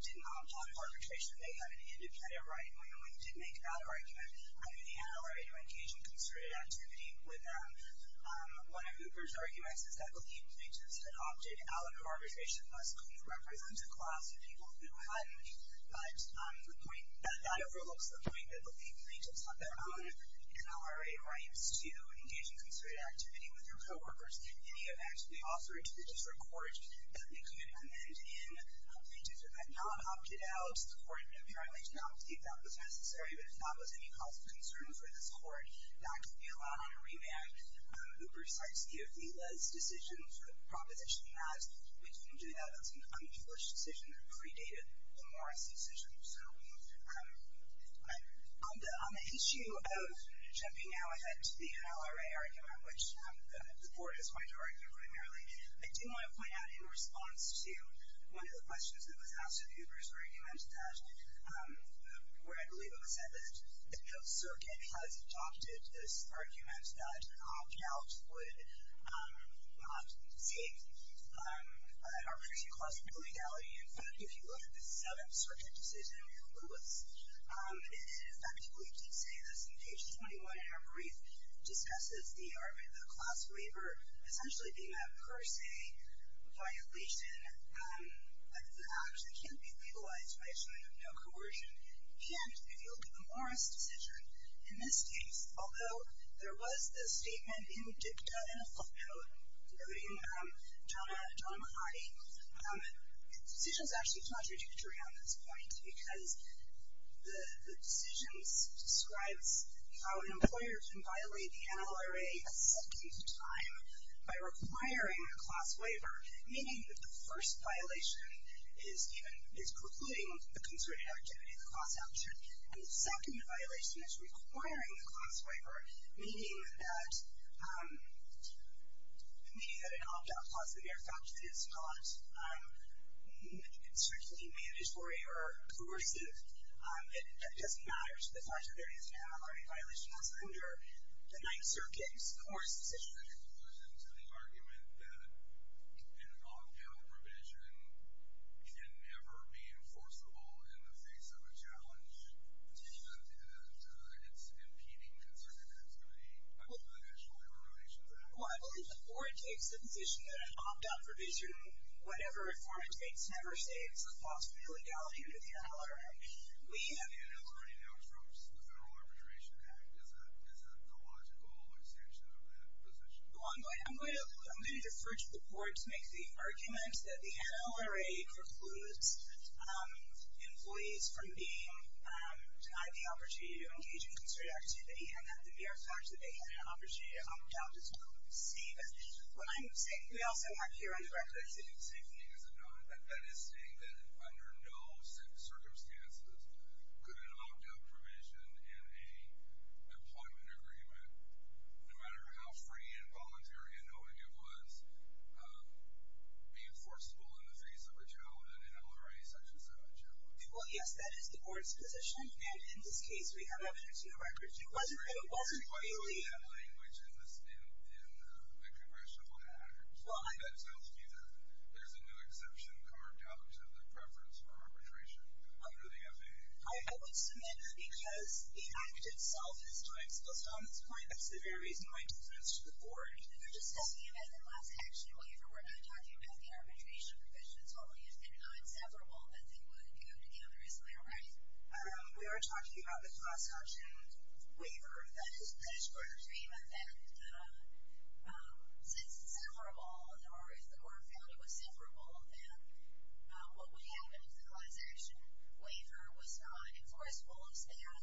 did not opt out of arbitration. They had an independent right, and we only did make that argument. I mean, they had a right to occasion concerted activity with one of Hooper's arguments is that the lead plaintiffs had opted out of arbitration unless it could represent a class of people who hadn't, but that overlooks the point that the lead plaintiffs have their own NLRA rights to occasion concerted activity with their coworkers. In the event we offer it to the district court that they could amend in a plaintiff who had not opted out, the court, apparently, did not believe that was necessary, but if that was any cause of concern for this court, that could be allowed on a remand. Hooper cites the Ophelia's proposition that we didn't do that. That's an unpublished decision that predated the Morris decision. So, on the issue of jumping out at the NLRA argument, which the court is going to argue primarily, I do want to point out, in response to one of the questions that was asked of Hooper's argument that, where I believe it was said that the House Circuit has adopted this argument that opting out would not save an arbitrary class of people's legality, in fact, if you look at the Seventh Circuit decision in Lewis, it effectively did say this. On page 21, in our brief, it discusses the class waiver essentially being a per se violation that actually can't be legalized by assuming of no coercion. And, if you look at the Morris decision, in this case, although there was this statement in Dicta and a flip note, noting Donna McCarty, the decision's actually contradictory on this point because the decision describes how an employer can violate the NLRA a second time by requiring a class waiver, meaning that the first violation is precluding the concerted activity of the class action, and the second violation is requiring the class waiver, meaning that an opt-out clause, as a matter of fact, is not strictly mandatory or coercive. It doesn't matter to the fact that there is an NLRA violation that's under the Ninth Circuit's Coerced Decision. In conclusion to the argument that an opt-out provision can never be enforceable in the face of a challenge, it's impeding the concerted act study under the National Labor Relations Act. Well, I believe the court takes the position that an opt-out provision, whatever form it takes, never states the possibility of legality under the NLRA. We have an NLRA now from the Federal Arbitration Act. Is that the logical extension of that position? Well, I'm going to defer to the court to make the argument that the NLRA precludes employees from being denied the opportunity to engage in concerted activity, and that the mere fact that they had an opportunity to opt-out does not seem as, when I'm saying, we also have here on the record, it seems. The same thing as a non, that is saying that under no circumstances could an opt-out provision in a employment agreement, no matter how free and voluntary and knowing it was, be enforceable in the face of a challenge in an NLRA such as that, Jim. Well, yes, that is the board's position, and in this case, we have evidence in the records. It wasn't that it wasn't freely. In the language in the Congressional Act, that tells me that there's a new exception carved out of the preference for arbitration under the FAA. I would submit that because the act itself is too explicit on this point, that's the very reason why it's addressed to the board. We're just asking you guys one last action, we're not talking about the arbitration provisions holding it non-separable, that they wouldn't go together, is that right? We are talking about the cross-option waiver that is placed for the agreement that since it's separable, or if the board found it was separable, then what would happen if the legalization waiver was not enforceable instead?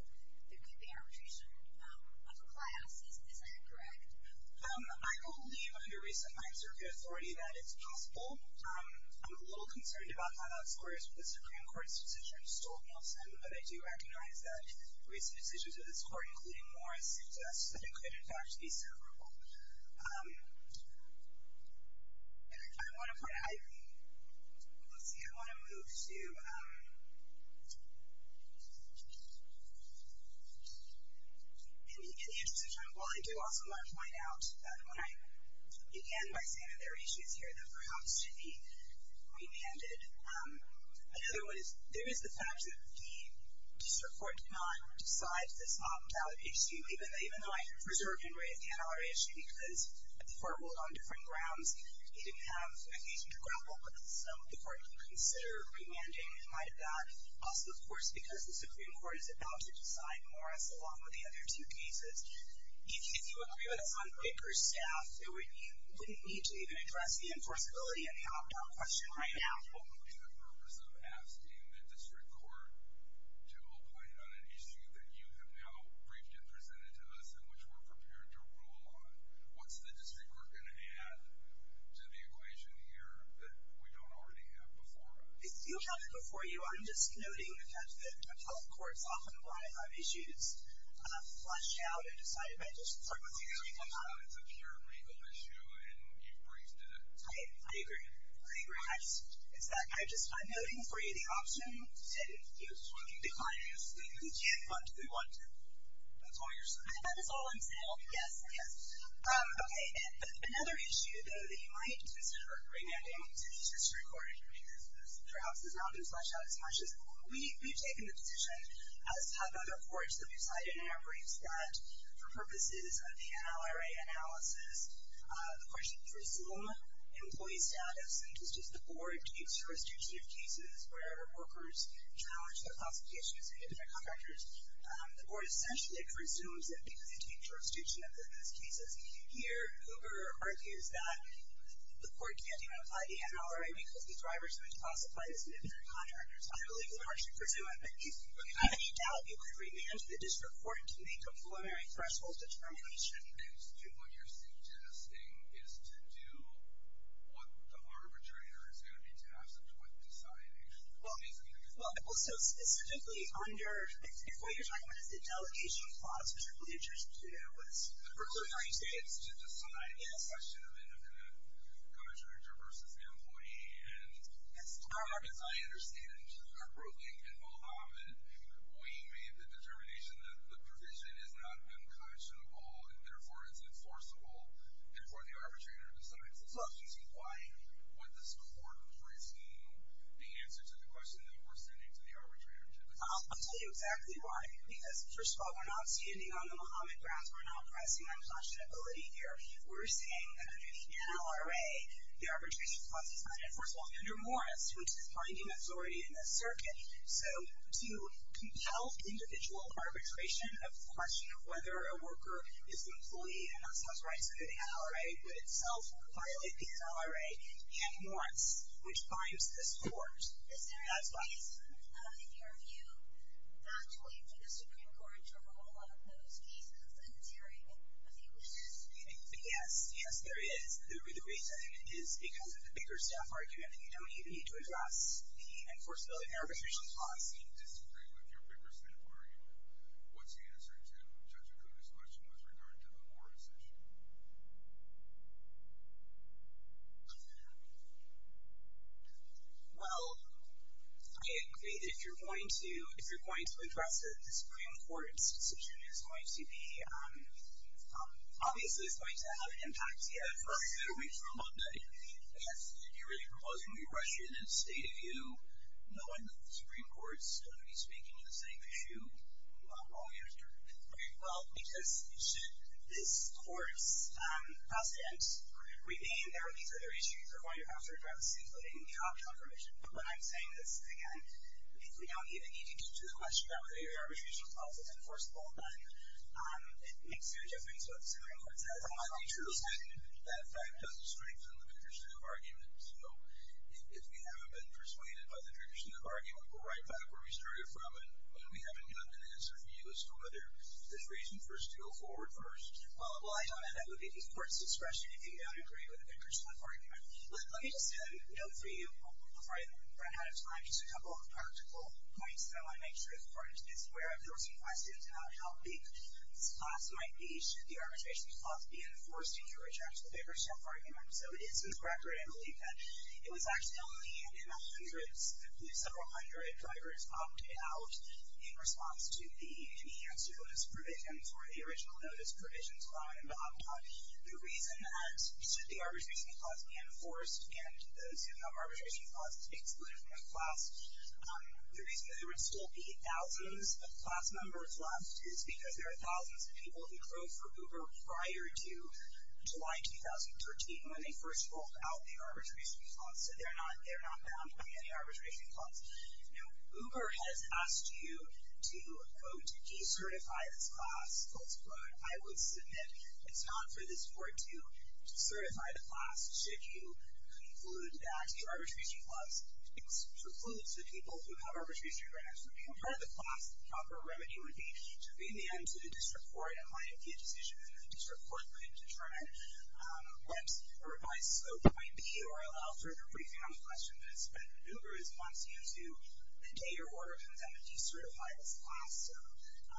There could be arbitration of a class, is that correct? I believe, under recent hindsight, circuit authority, that it's possible. I'm a little concerned about how that squares with the Supreme Court's decision, Stolt-Nelson, but I do recognize that recent decisions of this court, including Morris, suggest that it could, in fact, be separable. I want to put, let's see, I want to move to, in the interest of time, while I do also want to point out that when I began by saying that there are issues here that perhaps should be remanded, another one is, there is the fact that the district court did not decide this opt-out issue, even though I preserve Henry as the ancillary issue because the court ruled on different grounds. He didn't have an occasion to grapple with this, so the court didn't consider remanding in light of that. Also, of course, because the Supreme Court is about to decide Morris, along with the other two cases, if you agree with us on Baker's staff, you wouldn't need to even address the enforceability of the opt-out question right now. What would be the purpose of asking the district court to oplate on an issue that you have now briefly presented to us and which we're prepared to rule on? What's the district court gonna add to the equation here that we don't already have before us? If you have it before you, I'm just noting that the public courts often rely on issues flushed out and decided by district courts. It's a pure legal issue and you've raised it. I agree. I agree. Perhaps it's that, I just, I'm noting for you the option to decline to do what we want to do. That's all you're saying? That is all I'm saying, yes, yes. Okay, and another issue, though, that you might consider remanding to the district court because perhaps it's not been flushed out as much is we've taken the position, as have other courts that we've cited in our briefs, that for purposes of the NLRA analysis, the court should presume employee status and just as the board takes jurisdiction of cases where workers challenge their classification as independent contractors, the board essentially presumes that because they take jurisdiction of those cases, here, Hoover argues that the court can't even apply the NLRA because the thrivers would classify as independent contractors. I believe the court should presume, without any doubt, you would remand to the district court to make a preliminary threshold determination. Excuse me, what you're suggesting is to do what the arbitrator is gonna be tasked with deciding. Well, so specifically under, before you're talking about it, it's the delegation clause, which I believe jurisdiction is gonna do, but it's a rule, are you saying? It's to decide the question of independent contractor versus employee, and as far as I understand, appropriately, in Mohammed, we made the determination that the provision is not unconscionable, and therefore, it's enforceable, and for the arbitrator to decide. So I'm just inquiring, would this court presume the answer to the question that we're sending to the arbitrator to decide? I'll tell you exactly why, because first of all, we're not standing on the Mohammed grounds, we're not pressing unconscionability here. We're saying that under the NLRA, the arbitration clause is not enforceable. Under Morris, which is part of the majority in this circuit, so to compel individual arbitration of the question of whether a worker is the employee and has rights under the NLRA, would itself violate the NLRA and Morris, which binds this court. Is there a reason, in your view, that will lead to the Supreme Court to rule on those cases in this area? And if you wish to speak. Yes, yes, there is. The reason is because of the bigger staff argument, and you don't even need to address the enforceability of the arbitration clause. I disagree with your bigger staff argument. What's the answer to Judge O'Connor's question with regard to the Morris issue? Well, I agree that if you're going to address a Supreme Court's decision, it's going to be, obviously it's going to have an impact. Yeah, of course. You gotta wait for a Monday. Yes, if you're really proposing we rush you in a state of view, knowing that the Supreme Court's going to be speaking to the same issue, why won't you answer? Well, because should this court's pass the ends, we mean there are these other issues that are going to have to address, including the option of remission. But what I'm saying is, again, if we don't even need to get to the question about whether your arbitration clause is enforceable, then it makes no difference what the Supreme Court says. The fact doesn't strengthen the bigger staff argument. So, if we haven't been persuaded by the bigger staff argument, we're right back where we started from, and we haven't gotten an answer from you as to whether there's reason for us to go forward first. Well, I don't know that would be the court's discretion if you don't agree with the bigger staff argument. Let me just note for you, before I run out of time, just a couple of practical points that I want to make sure the court is aware of. There was some questions about how big this clause might be. Should the arbitration clause be enforced if you reject the bigger staff argument? So, it's been corrected. I believe that it was actually only in the hundreds, several hundred drivers opted out in response to the enhanced notice provisions, or the original notice provisions, allowing them to opt out. The reason that should the arbitration clause be enforced, and those who have arbitration clauses excluded from the class, the reason that there would still be thousands of class members left is because there are thousands of people who drove for Uber prior to July 2013 when they first rolled out the arbitration clause. So, they're not bound by any arbitration clause. Uber has asked you to go to decertify this class. I would submit it's not for this court to certify the class should you conclude that the arbitration clause excludes the people who have arbitration grounds. If you were part of the class, the proper remedy would be to bring the end to the district court and let it be a decision that the district court could determine. Once a revised O.W.B. or O.L. for a briefing on the question is spent, Uber wants you to contain your order and then decertify this class. So,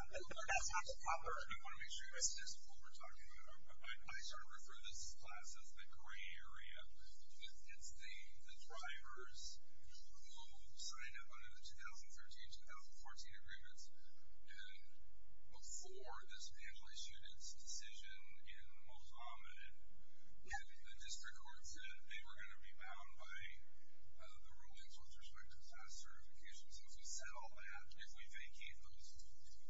that's not the proper remedy. I wanna make sure you're listening to what we're talking about. I sort of refer to this class as the gray area. It's the drivers who signed up under the 2013-2014 agreements and before this panel issued its decision in the most ominous, the district court said they were gonna be bound by the rulings with respect to the class certification. So, if we settle that, if we vacate those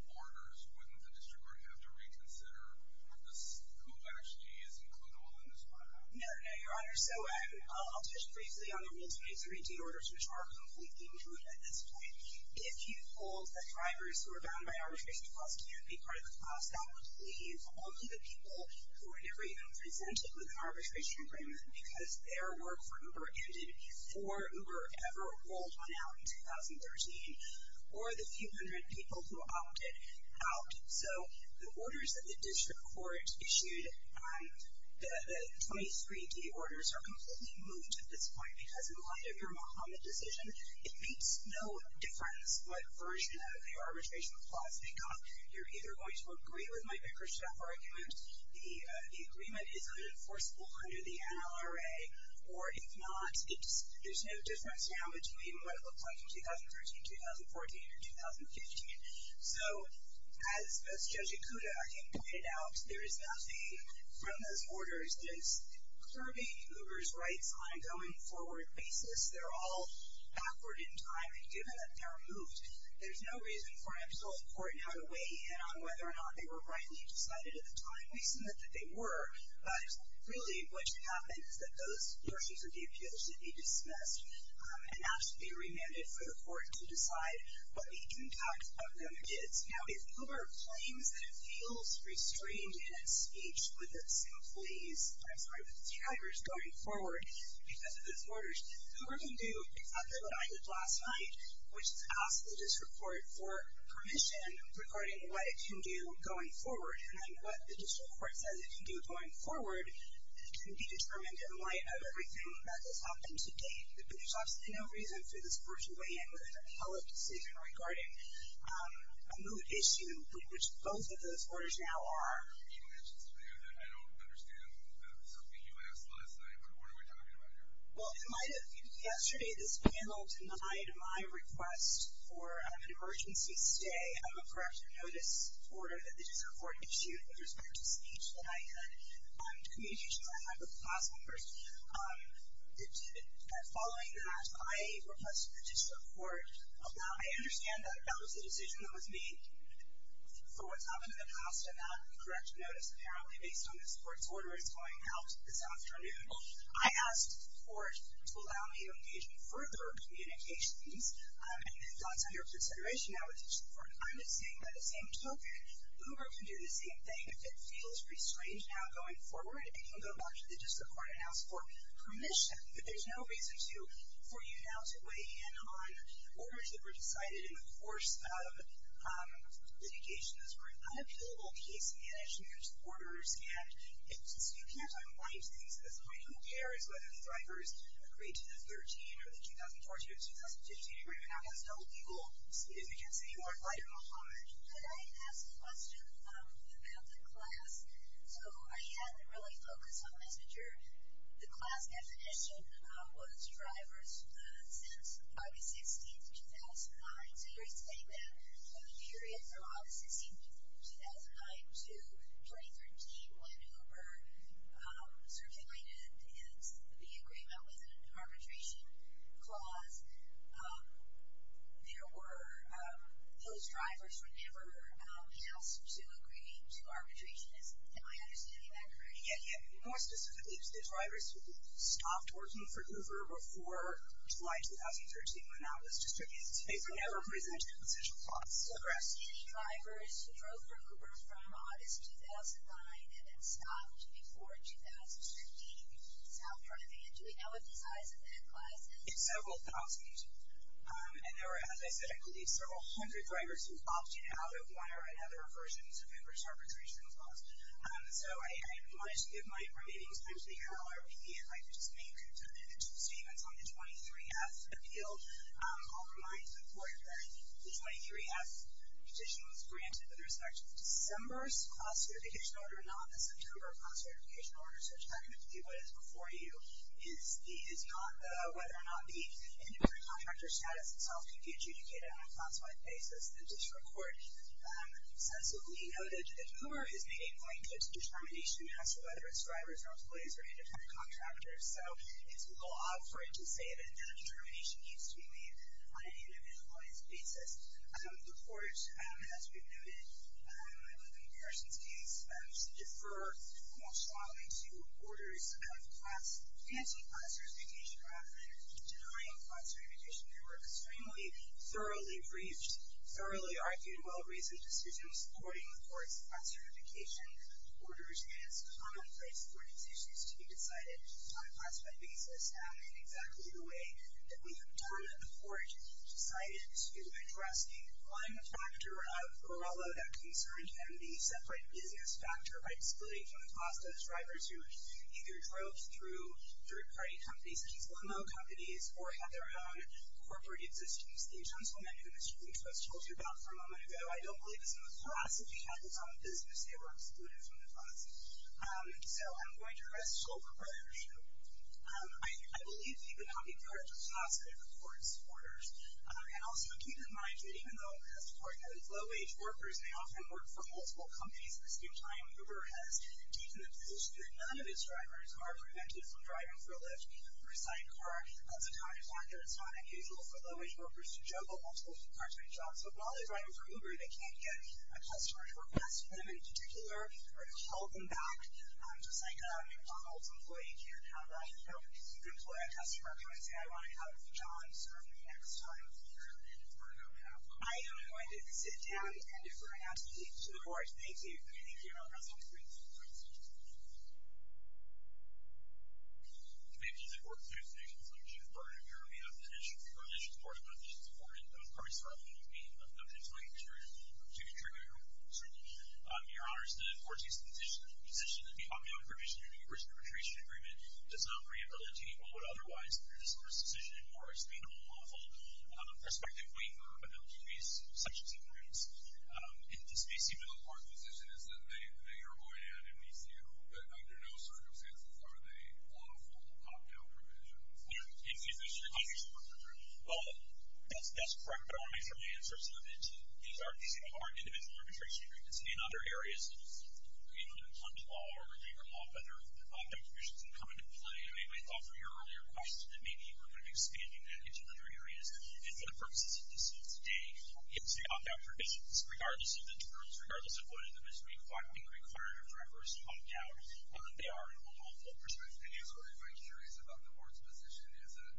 orders, wouldn't the district court have to reconsider who actually is includable in this class? No, no, your honor. So, I'll touch briefly on the rules of 2013 orders which are completely included at this point. If you hold that drivers who are bound by arbitration clause can't be part of the class, that would leave only the people who were never even presented with an arbitration agreement because their work for Uber ended before Uber ever rolled one out in 2013 or the few hundred people who opted out. So, the orders that the district court issued, the 23D orders are completely moved at this point because in light of your Mahomet decision, it makes no difference what version of the arbitration clause they got. You're either going to agree with my Baker-Scheff argument, the agreement is unenforceable under the NLRA, or if not, there's no difference now between what it looked like in 2013, 2014, and 2015. So, as Judge Ikuda, I think, pointed out, there is nothing from those orders that's curbing Uber's rights on a going forward basis. They're all backward in time, and given that they're moved, there's no reason for an absolute court now to weigh in on whether or not they were rightly decided at the time. We submit that they were, but really what should happen is that those versions of the appeal should be dismissed and asked to be remanded for the court to decide what the impact of them is. Now, if Uber claims that it feels restrained in its speech with its employees, I'm sorry, with its drivers going forward because of those orders, Uber can do exactly what I did last night, which is ask the district court for permission regarding what it can do going forward, and then what the district court says it can do going forward can be determined in light of everything that has happened to date. But there's absolutely no reason for this court to weigh in with a hell of a decision regarding a mood issue, which both of those orders now are. You mentioned something that I don't understand, something you asked last night, what are we talking about here? Well, in light of yesterday, this panel denied my request for an emergency stay of a corrective notice order that the district court issued with respect to speech that I had, communications I had with the class members. Following that, I requested that the district court allow, I understand that that was a decision that was made for what's happened in the past, and that corrective notice, apparently based on this court's order, is going out this afternoon. I asked the court to allow me to engage in further communications, and that's under consideration now with the district court. I'm just saying by the same token, Uber can do the same thing. If it feels pretty strange now going forward, it can go back to the district court and ask for permission, but there's no reason for you now to weigh in on orders that were decided in the course of litigation that were unappealable case management orders, and since you can't unwind things at this point, who cares whether the drivers agreed to the 13 or the 2014 or 2015 agreement now has double legal, as you can see, more fight or no harm? Could I ask a question about the class? So I had to really focus on messenger. The class definition was drivers since August 16th, 2009, so you're saying that the period from August 16th, 2009 to 2013 when Uber circulated and the agreement was an arbitration clause, there were, those drivers were never asked to agree to arbitration, am I understanding that correctly? Yeah, yeah. More specifically, the drivers who stopped working for Uber before July 2013 when that was distributed, they were never presented with such a clause. So for us, any drivers who drove for Uber from August 2009 and then stopped before 2015, so for a van, do we know what the size of that class is? It's several thousand, and there were, as I said, I believe several hundred drivers who opted out of one or another version of Uber's arbitration clause. So I wanted to give my remaining time to the NLRB and I could just make two statements on the 23F appeal. I'll remind the court that the 23F petition was granted with respect to December's class certification order, not the September class certification order, so technically, what is before you is not whether or not the independent contractor status itself can be adjudicated on a class-wide basis. The district court sensibly noted that Uber has made a blanket determination as to whether its drivers, employees, or independent contractors, so it's law for it to say that that determination needs to be made on an individualized basis. The court, as we've noted, in Harrison's case, deferred most strongly to orders of class, anti-class certification rather than denying class certification, they were extremely thoroughly briefed, thoroughly argued, well-reasoned decisions according to the court's class certification orders and its commonplace court decisions to be decided on a class-wide basis in exactly the way that we have done it. The district court decided to address the one factor of Borrello that concerned and the separate business factor by splitting from the class those drivers who either drove through third-party companies, such as limo companies, or had their own corporate existence. The gentleman who Mr. Lynch was told about for a moment ago, I don't believe is in the class, if he had his own business, they were excluded from the class, so I'm going to arrest Schull for bribery, I believe he could not be deferred to the class because of the court's orders. And also keep in mind that even though the district court has low-wage workers, they often work for multiple companies at the same time, Uber has deepened the position that none of its drivers are prevented from driving for a lift, or a sidecar, that's a time when it's not unusual for low-wage workers to juggle multiple car-to-car jobs, so while they're driving for Uber, they can't get a customer to request from them in particular, or to hold them back, just like a McDonald's employee can't have a, an employer customer can't say, I want a cup of coffee, sir, for the next time. You're going to defer to the board. I am going to sit down and defer and ask the case to the board, thank you. Thank you, Your Honor, that's all I'm going to do. The people of the court, through the nation's liberty and justice department, we are only of the nation's court, not the nation's board, and those parties are unable to be objectively interviewed to contribute to the hearing. Your Honor, it's the court's position that the ongoing provision of the immigration and repatriation agreement does not rehabilitate, or would otherwise produce a rescission, or is being a lawful prospective waiver of LGBT sections and groups. It just may seem as though the court's position is that they are going to have an MECU, but under no circumstances are they lawful cocktail provisions. Well, that's correct, but I want to make sure my answer's limited to these are individual repatriation agreements, and in other areas, you know, in a plunge law or a waiver law, whether the opt-out provisions can come into play. I mean, I thought from your earlier question that maybe we're going to be expanding that into other areas, and for the purposes of this court today, it's the opt-out provisions, regardless of the terms, regardless of whether there is a requirement for a first opt-out, they are a lawful prospective waiver. I'm curious about the court's position, is that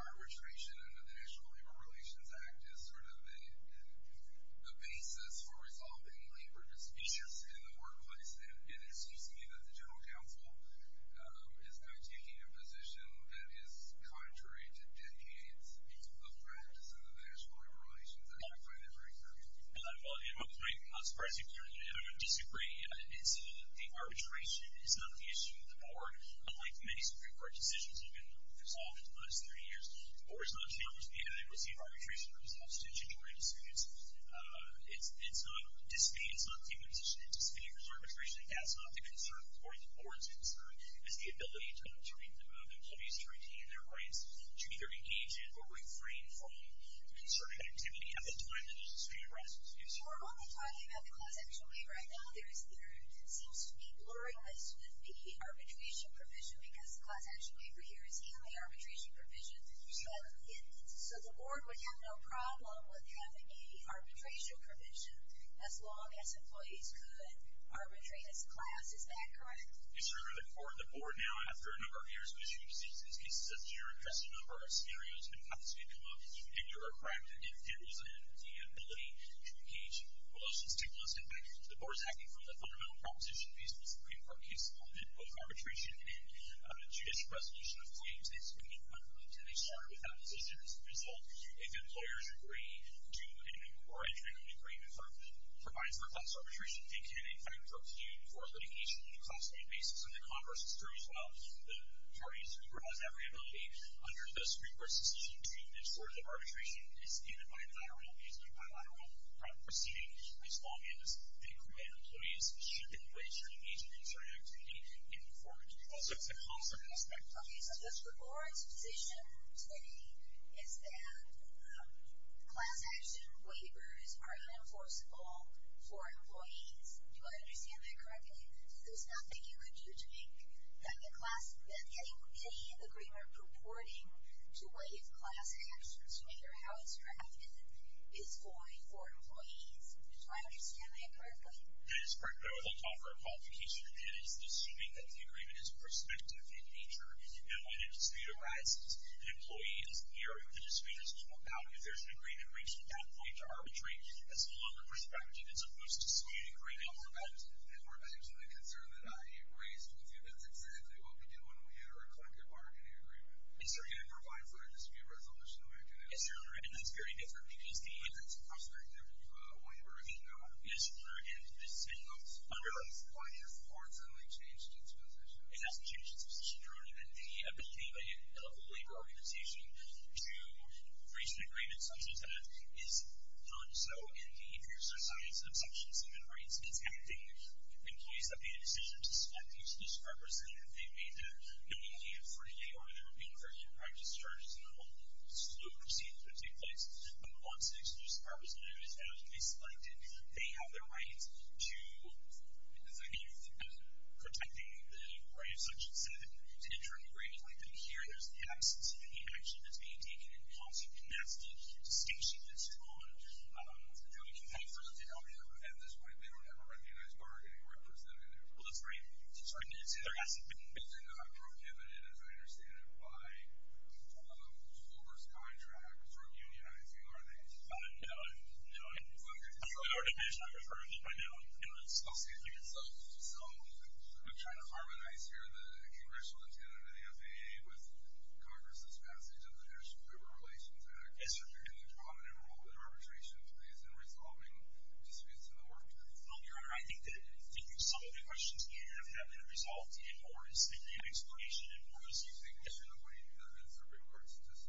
our retraction under the National Labor Relations Act is sort of the basis for resolving labor disputes in the workplace, and it seems to me that the General Counsel is now taking a position that is contrary to decades of practice under the National Labor Relations Act. I find that very concerning. Well, it might not surprise you, if you're in a disagreement, it's the arbitration is not the issue of the board, unlike many Supreme Court decisions that have been resolved in the last 30 years, the board is not challenged by the adequacy of arbitration for these obstetrician-drawing disputes. It's not the position, it's the arbitration, that's not the concern, or the board's concern, is the ability to intervene in the movement, employees to retain their rights, to either engage in or refrain from concerted activity at the time that there's a street arrest. Excuse me. We're only talking about the class-action waiver. Right now, there seems to be blurriness with the arbitration provision, because the class-action waiver here is in the arbitration provision, so the board would have no problem with having a arbitration provision, as long as employees could arbitrate as a class. Is that correct? Yes, Your Honor. The board, now, after a number of years of issuing decisions and cases such as this year, addressed a number of scenarios, and paths may come up, and you're correct. It deals in the ability to engage in relations to the list of factors. The board is acting from the fundamental proposition based on the Supreme Court case law, that both arbitration and judicial resolution of claims, they speak in conflict, and they start with opposition as a result. If employers agree to an inquiry, the Supreme Court provides for class arbitration, and can, in fact, argue for litigation on a cost-benefit basis, and the converse is true as well. The parties who have every ability, under the Supreme Court's decision to ensure that arbitration is given by a lateral, is given by a lateral proceeding, as long as they agree that employees should be able to engage in this sort of activity in conformity with the law, so it's a constant aspect. Okay, so the board's position today is that class action waivers are unenforceable for employees. Do I understand that correctly? There's nothing you could do to make that any agreement purporting to waive class actions, no matter how it's drafted, is void for employees. Do I understand that correctly? That is correct, but I would like to offer a complication. It is assuming that the agreement is prospective in nature, and when a dispute arises, an employee is here, the dispute is no more valid if there's an agreement reaching that point to arbitrate, as well on the prospective, as opposed to saying an agreement is no more valid. And we're back to the concern that I raised with you, that's exactly what we do when we enter a collective bargaining agreement. And so again, it provides a dispute resolution mechanism. Yes, Your Honor, and that's very different, because the- But that's a prospective waiver, as you know. Yes, Your Honor, and the Supreme Court has quietly and forcibly changed its position. It hasn't changed its position, Your Honor, that the ability of a labor organization to reach an agreement such as that is not so in the interests or science of such human rights. It's happening in place that they had a decision to select the exclusive representative. They made that, not only in 48-hour, they were being referred to practice charges in the long, slow proceedings that take place, but once an exclusive representative is found to be selected, they have their rights to the, protecting the rights such as said, to enter an agreement like that. Here, there's the absence of any action that's being taken in policy, and that's the distinction that's drawn. And so we can pay for it, Your Honor. At this point, they don't have a recognized bargaining representative, Your Honor. Well, that's right. That's right, and it's in their asset base. They're not prohibited, as I understand it, by Uber's contract from unionizing, are they? No, Your Honor. No, Your Honor. I'm sorry, Your Honor. I'm sorry, Your Honor. No, Your Honor. Oh, excuse me. So, I'm trying to harmonize here the congressional intent of the FAA with Congress's passage of the National Labor Relations Act. Yes, Your Honor. And the prominent role that arbitration plays in resolving disputes in the workplace. No, Your Honor, I think that some of the questions have been resolved in more, is the name explanation in more, as you think. Yes, Your Honor. What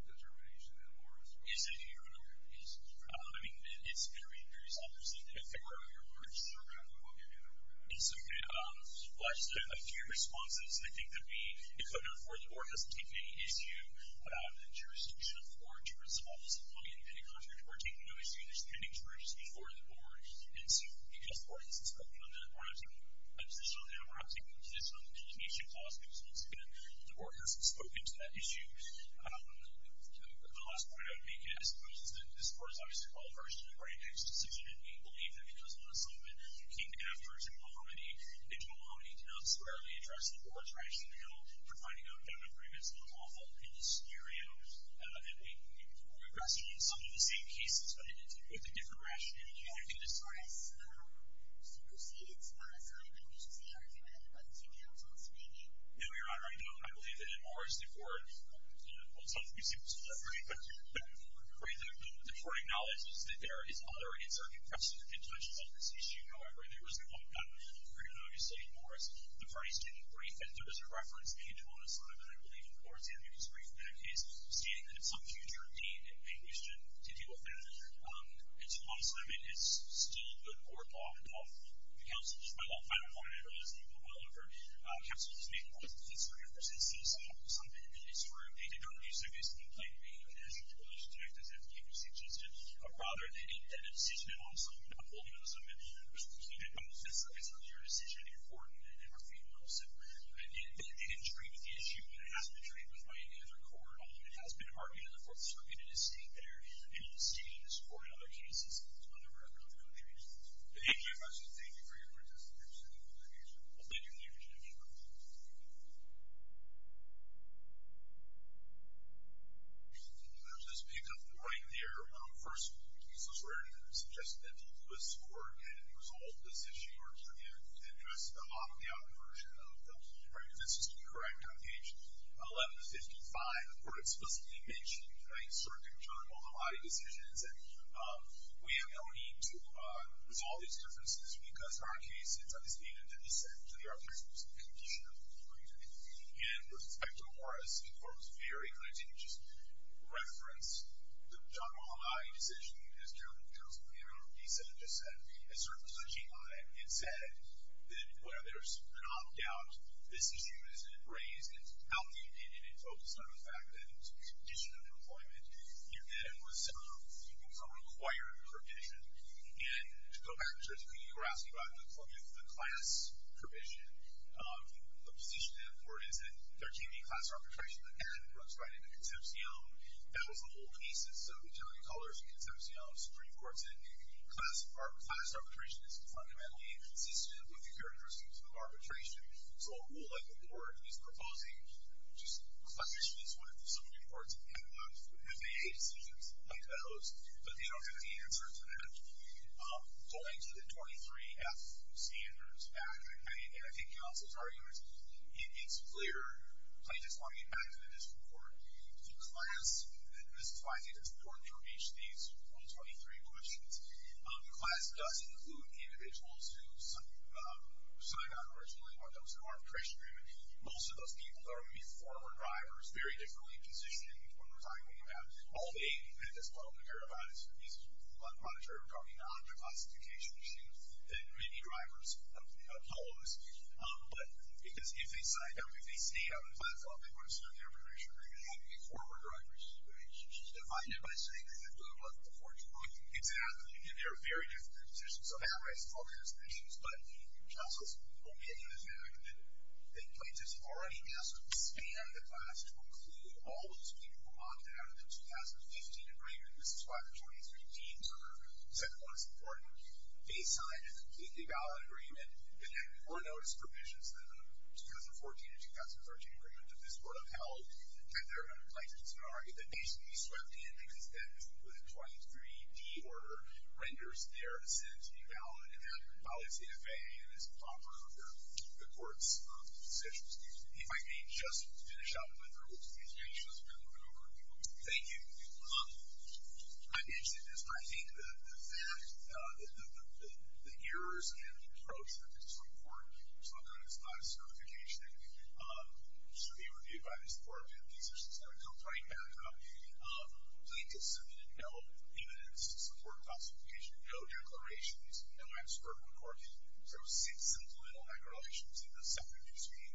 do you think of that? It's a reference to some determination in more as well. Yes, I do, Your Honor. Yes. I mean, it's very, very self-explanatory. In favor of your purge. In favor of your purge, Your Honor. Yes, okay, well, I just have a few responses. I think that we, the code number four, the board hasn't taken any issue about the jurisdiction of more to resolve this employee-independent contract. We're taking no issue. There's pending jurisdiction for the board. And so, because the board hasn't spoken on that, we're not taking a position on that. We're not taking a position on the determination clause that was once again, the board hasn't spoken to that issue. The last point I would make, I suppose, is that this board is obviously called first to the very next decision. And we believe that it was an assignment that came after Jim Mahomedy. And Jim Mahomedy did not squarely address the board's rationale for finding out that an agreement's not lawful in this scenario. And we question some of the same cases, but with a different rationality. And I think this is- Morris, you preceded on assignment, which is the argument of two counsels, maybe? No, Your Honor, I don't. I believe that Morris, the board, well, it's not that we seem to disagree, but the board acknowledges that there is other in circuit questions and tensions on this issue. However, there is a point, I'm afraid I'm going to say, Morris, the parties didn't brief, and there was a reference made to an assignment, I believe, in Florence. And it was briefed in that case, stating that some future need may be shown to deal with that. It's a law assignment. It's still a good court law. And all the counsels, my final point, I don't know if this will go well over, counsels made the point that the counselor never says something that is true. They did not use this complaint to make a national privilege to act as an advocate for citizenship, but rather, they made that a decision and also not hold it as a commitment. And so, it's not your decision. It's important, and I never feel that I'm simply, I didn't agree with the issue, and it hasn't been treated with right in the other court. Although, it has been argued in the fourth circuit, it is stated there, and it is stated in this court and other cases on the record of the country. Thank you. Thank you for your participation, Your Honor. I'll let your theory continue, Your Honor. Thank you. I'll just pick up right there. First, this was already suggested that the Lewis Court had resolved this issue or had addressed the bottom-down version of the, right, if this is to be correct, on page 1155, the court explicitly mentioned in a circuit journal, the lie decisions, and we have no need to resolve these differences because, in our case, it's understated that the dissent to the argument was a condition of employment, and with respect to Morris, the court was very clear. It didn't just reference the John Mulally decision as chairman of the Council of the Amendment of Dissent. It just said, it sort of touched on it and said that where there's an opt-out, this issue isn't raised, it's outlined, and it focused on the fact that it was a condition of employment. It was a required condition, and to go back to what you were asking about, with the class provision, the position that the court is in, there can't be class arbitration that then runs right into Concepcion. That was the whole thesis, so we generally call it a Concepcion Supreme Court. It said, class arbitration is fundamentally inconsistent with the characteristics of arbitration, so a rule like the board is proposing, just, a position is one of the Supreme Courts that can have FAA decisions like those, but they don't have the answer to that. So, I included 23F standards back, and I think Council's argument, it's clear, plaintiffs want to get back to the district court. The class, this is why I think it's important to reach these 123 questions. The class does include individuals who signed on originally when there was an arbitration agreement. Most of those people are going to be former drivers, very differently positioned when we're talking about all being, at this point, we're going to hear about it, it's probably not a classification issue that many drivers, a couple of us, but because if they signed up, if they stayed on the platform, they wouldn't stand the arbitration agreement, they'd have to be former drivers. She's right, she's divided by saying they have to have left at the 14th. Exactly, and they're very different positions, so that raises all kinds of issues, but Council's opinion is that the plaintiffs already asked to expand the class to include all those people who logged out in 2015 and this is why the 23Ds are set forth as important. They signed a completely valid agreement that had more notice provisions than the 2014 and 2013 agreements that this court upheld, and they're going to place it in a scenario that basically swept in because that was a 23D order renders their assent invalid and violates the FAA and is improper under the court's decisions. If I may just finish up with the rules, these issues have been a little bit over the top. Thank you. I'd mention this, I think that the fact that the errors and the pros of this report, it's not good, it's not a certification, should be reviewed by this court if these are some sort of complaint backup. Plaintiffs submitted no evidence to support classification, no declarations, no expert report, so six supplemental regulations in the separate news feed,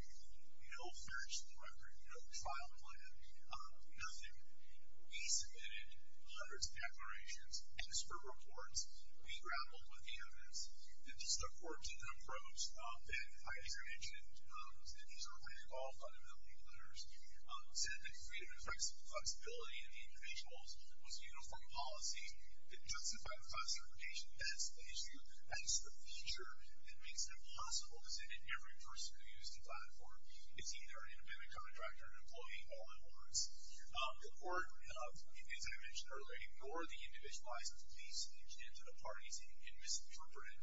no fairness in the record, no trial plan, nothing. We submitted hundreds of declarations, expert reports, we grappled with the evidence, and just the court took an approach that I just mentioned, and these are all fundamentally letters, said that freedom and flexibility in the individuals was a uniform policy that justified the classification as the feature that makes it impossible to say that every person who used the platform is either an independent contractor, or an employee all at once. The court, as I mentioned earlier, ignored the individualized police speech into the parties and misinterpreted,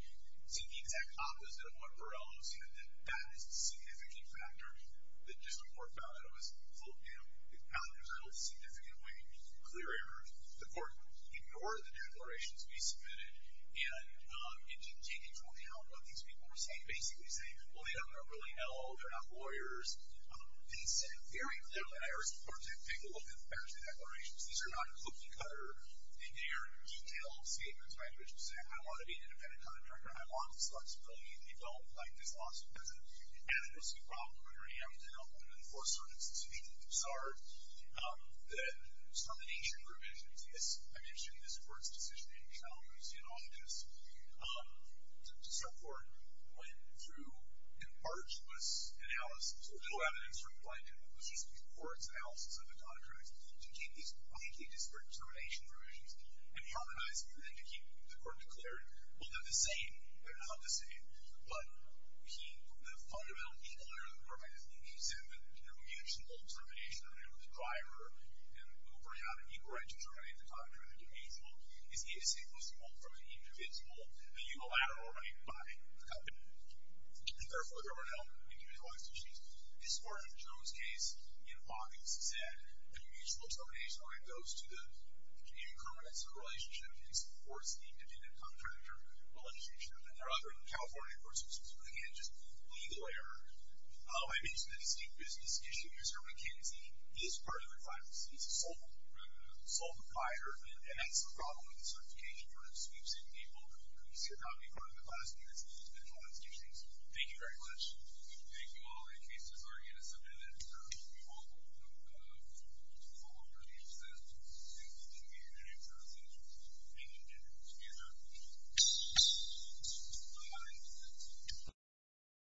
said the exact opposite of what Borrello said, that that is a significant factor that just the court found out it was filled out in a significant way, clear error. The court ignored the declarations we submitted, and it didn't take into account what these people were saying. Basically saying, well they don't know really at all, they're not lawyers. They said very little, and I urge the court to take a look at the bankruptcy declarations. These are not cookie cutter, they are detailed statements by individuals saying I want to be an independent contractor, I want this flexibility, they don't like this law, so there's an adequacy problem where you have to help them enforce certain institutions. It's bizarre that some of the ancient provisions, as I mentioned, this court's decision in Calhoun's Anonymous to support, went through an arduous analysis, a little evidence from Blandin, but this was before its analysis of the contracts, to keep these widely disparate determination provisions and harmonize them, and then to keep the court declared, well they're the same, they're not the same, but the fundamental equal error that the court had to think, he said that the unilateral determination of the driver and Uber, how to equi-determinate the contractor and the debasable, is the unsinkable from the indivisible, the unilateral running by the company. And therefore, there were no individualized issues. This part of Jones' case in Hawkins said that mutual determination only goes to the incumbency relationship in supporting independent contractor relationship, and there are other California courts which would again just legal error. I mentioned the distinct business issue, Mr. McKenzie, this part of the file, it's a sole proprietor, and that's the problem with the certification, it sort of sweeps in people who could not be part of the class, and it's been a problem since. Thank you very much. Thank you all. In case there's already a submitted, we will hold a follow-up review so that we can get your names out so that we can get it to be adopted. Bye-bye.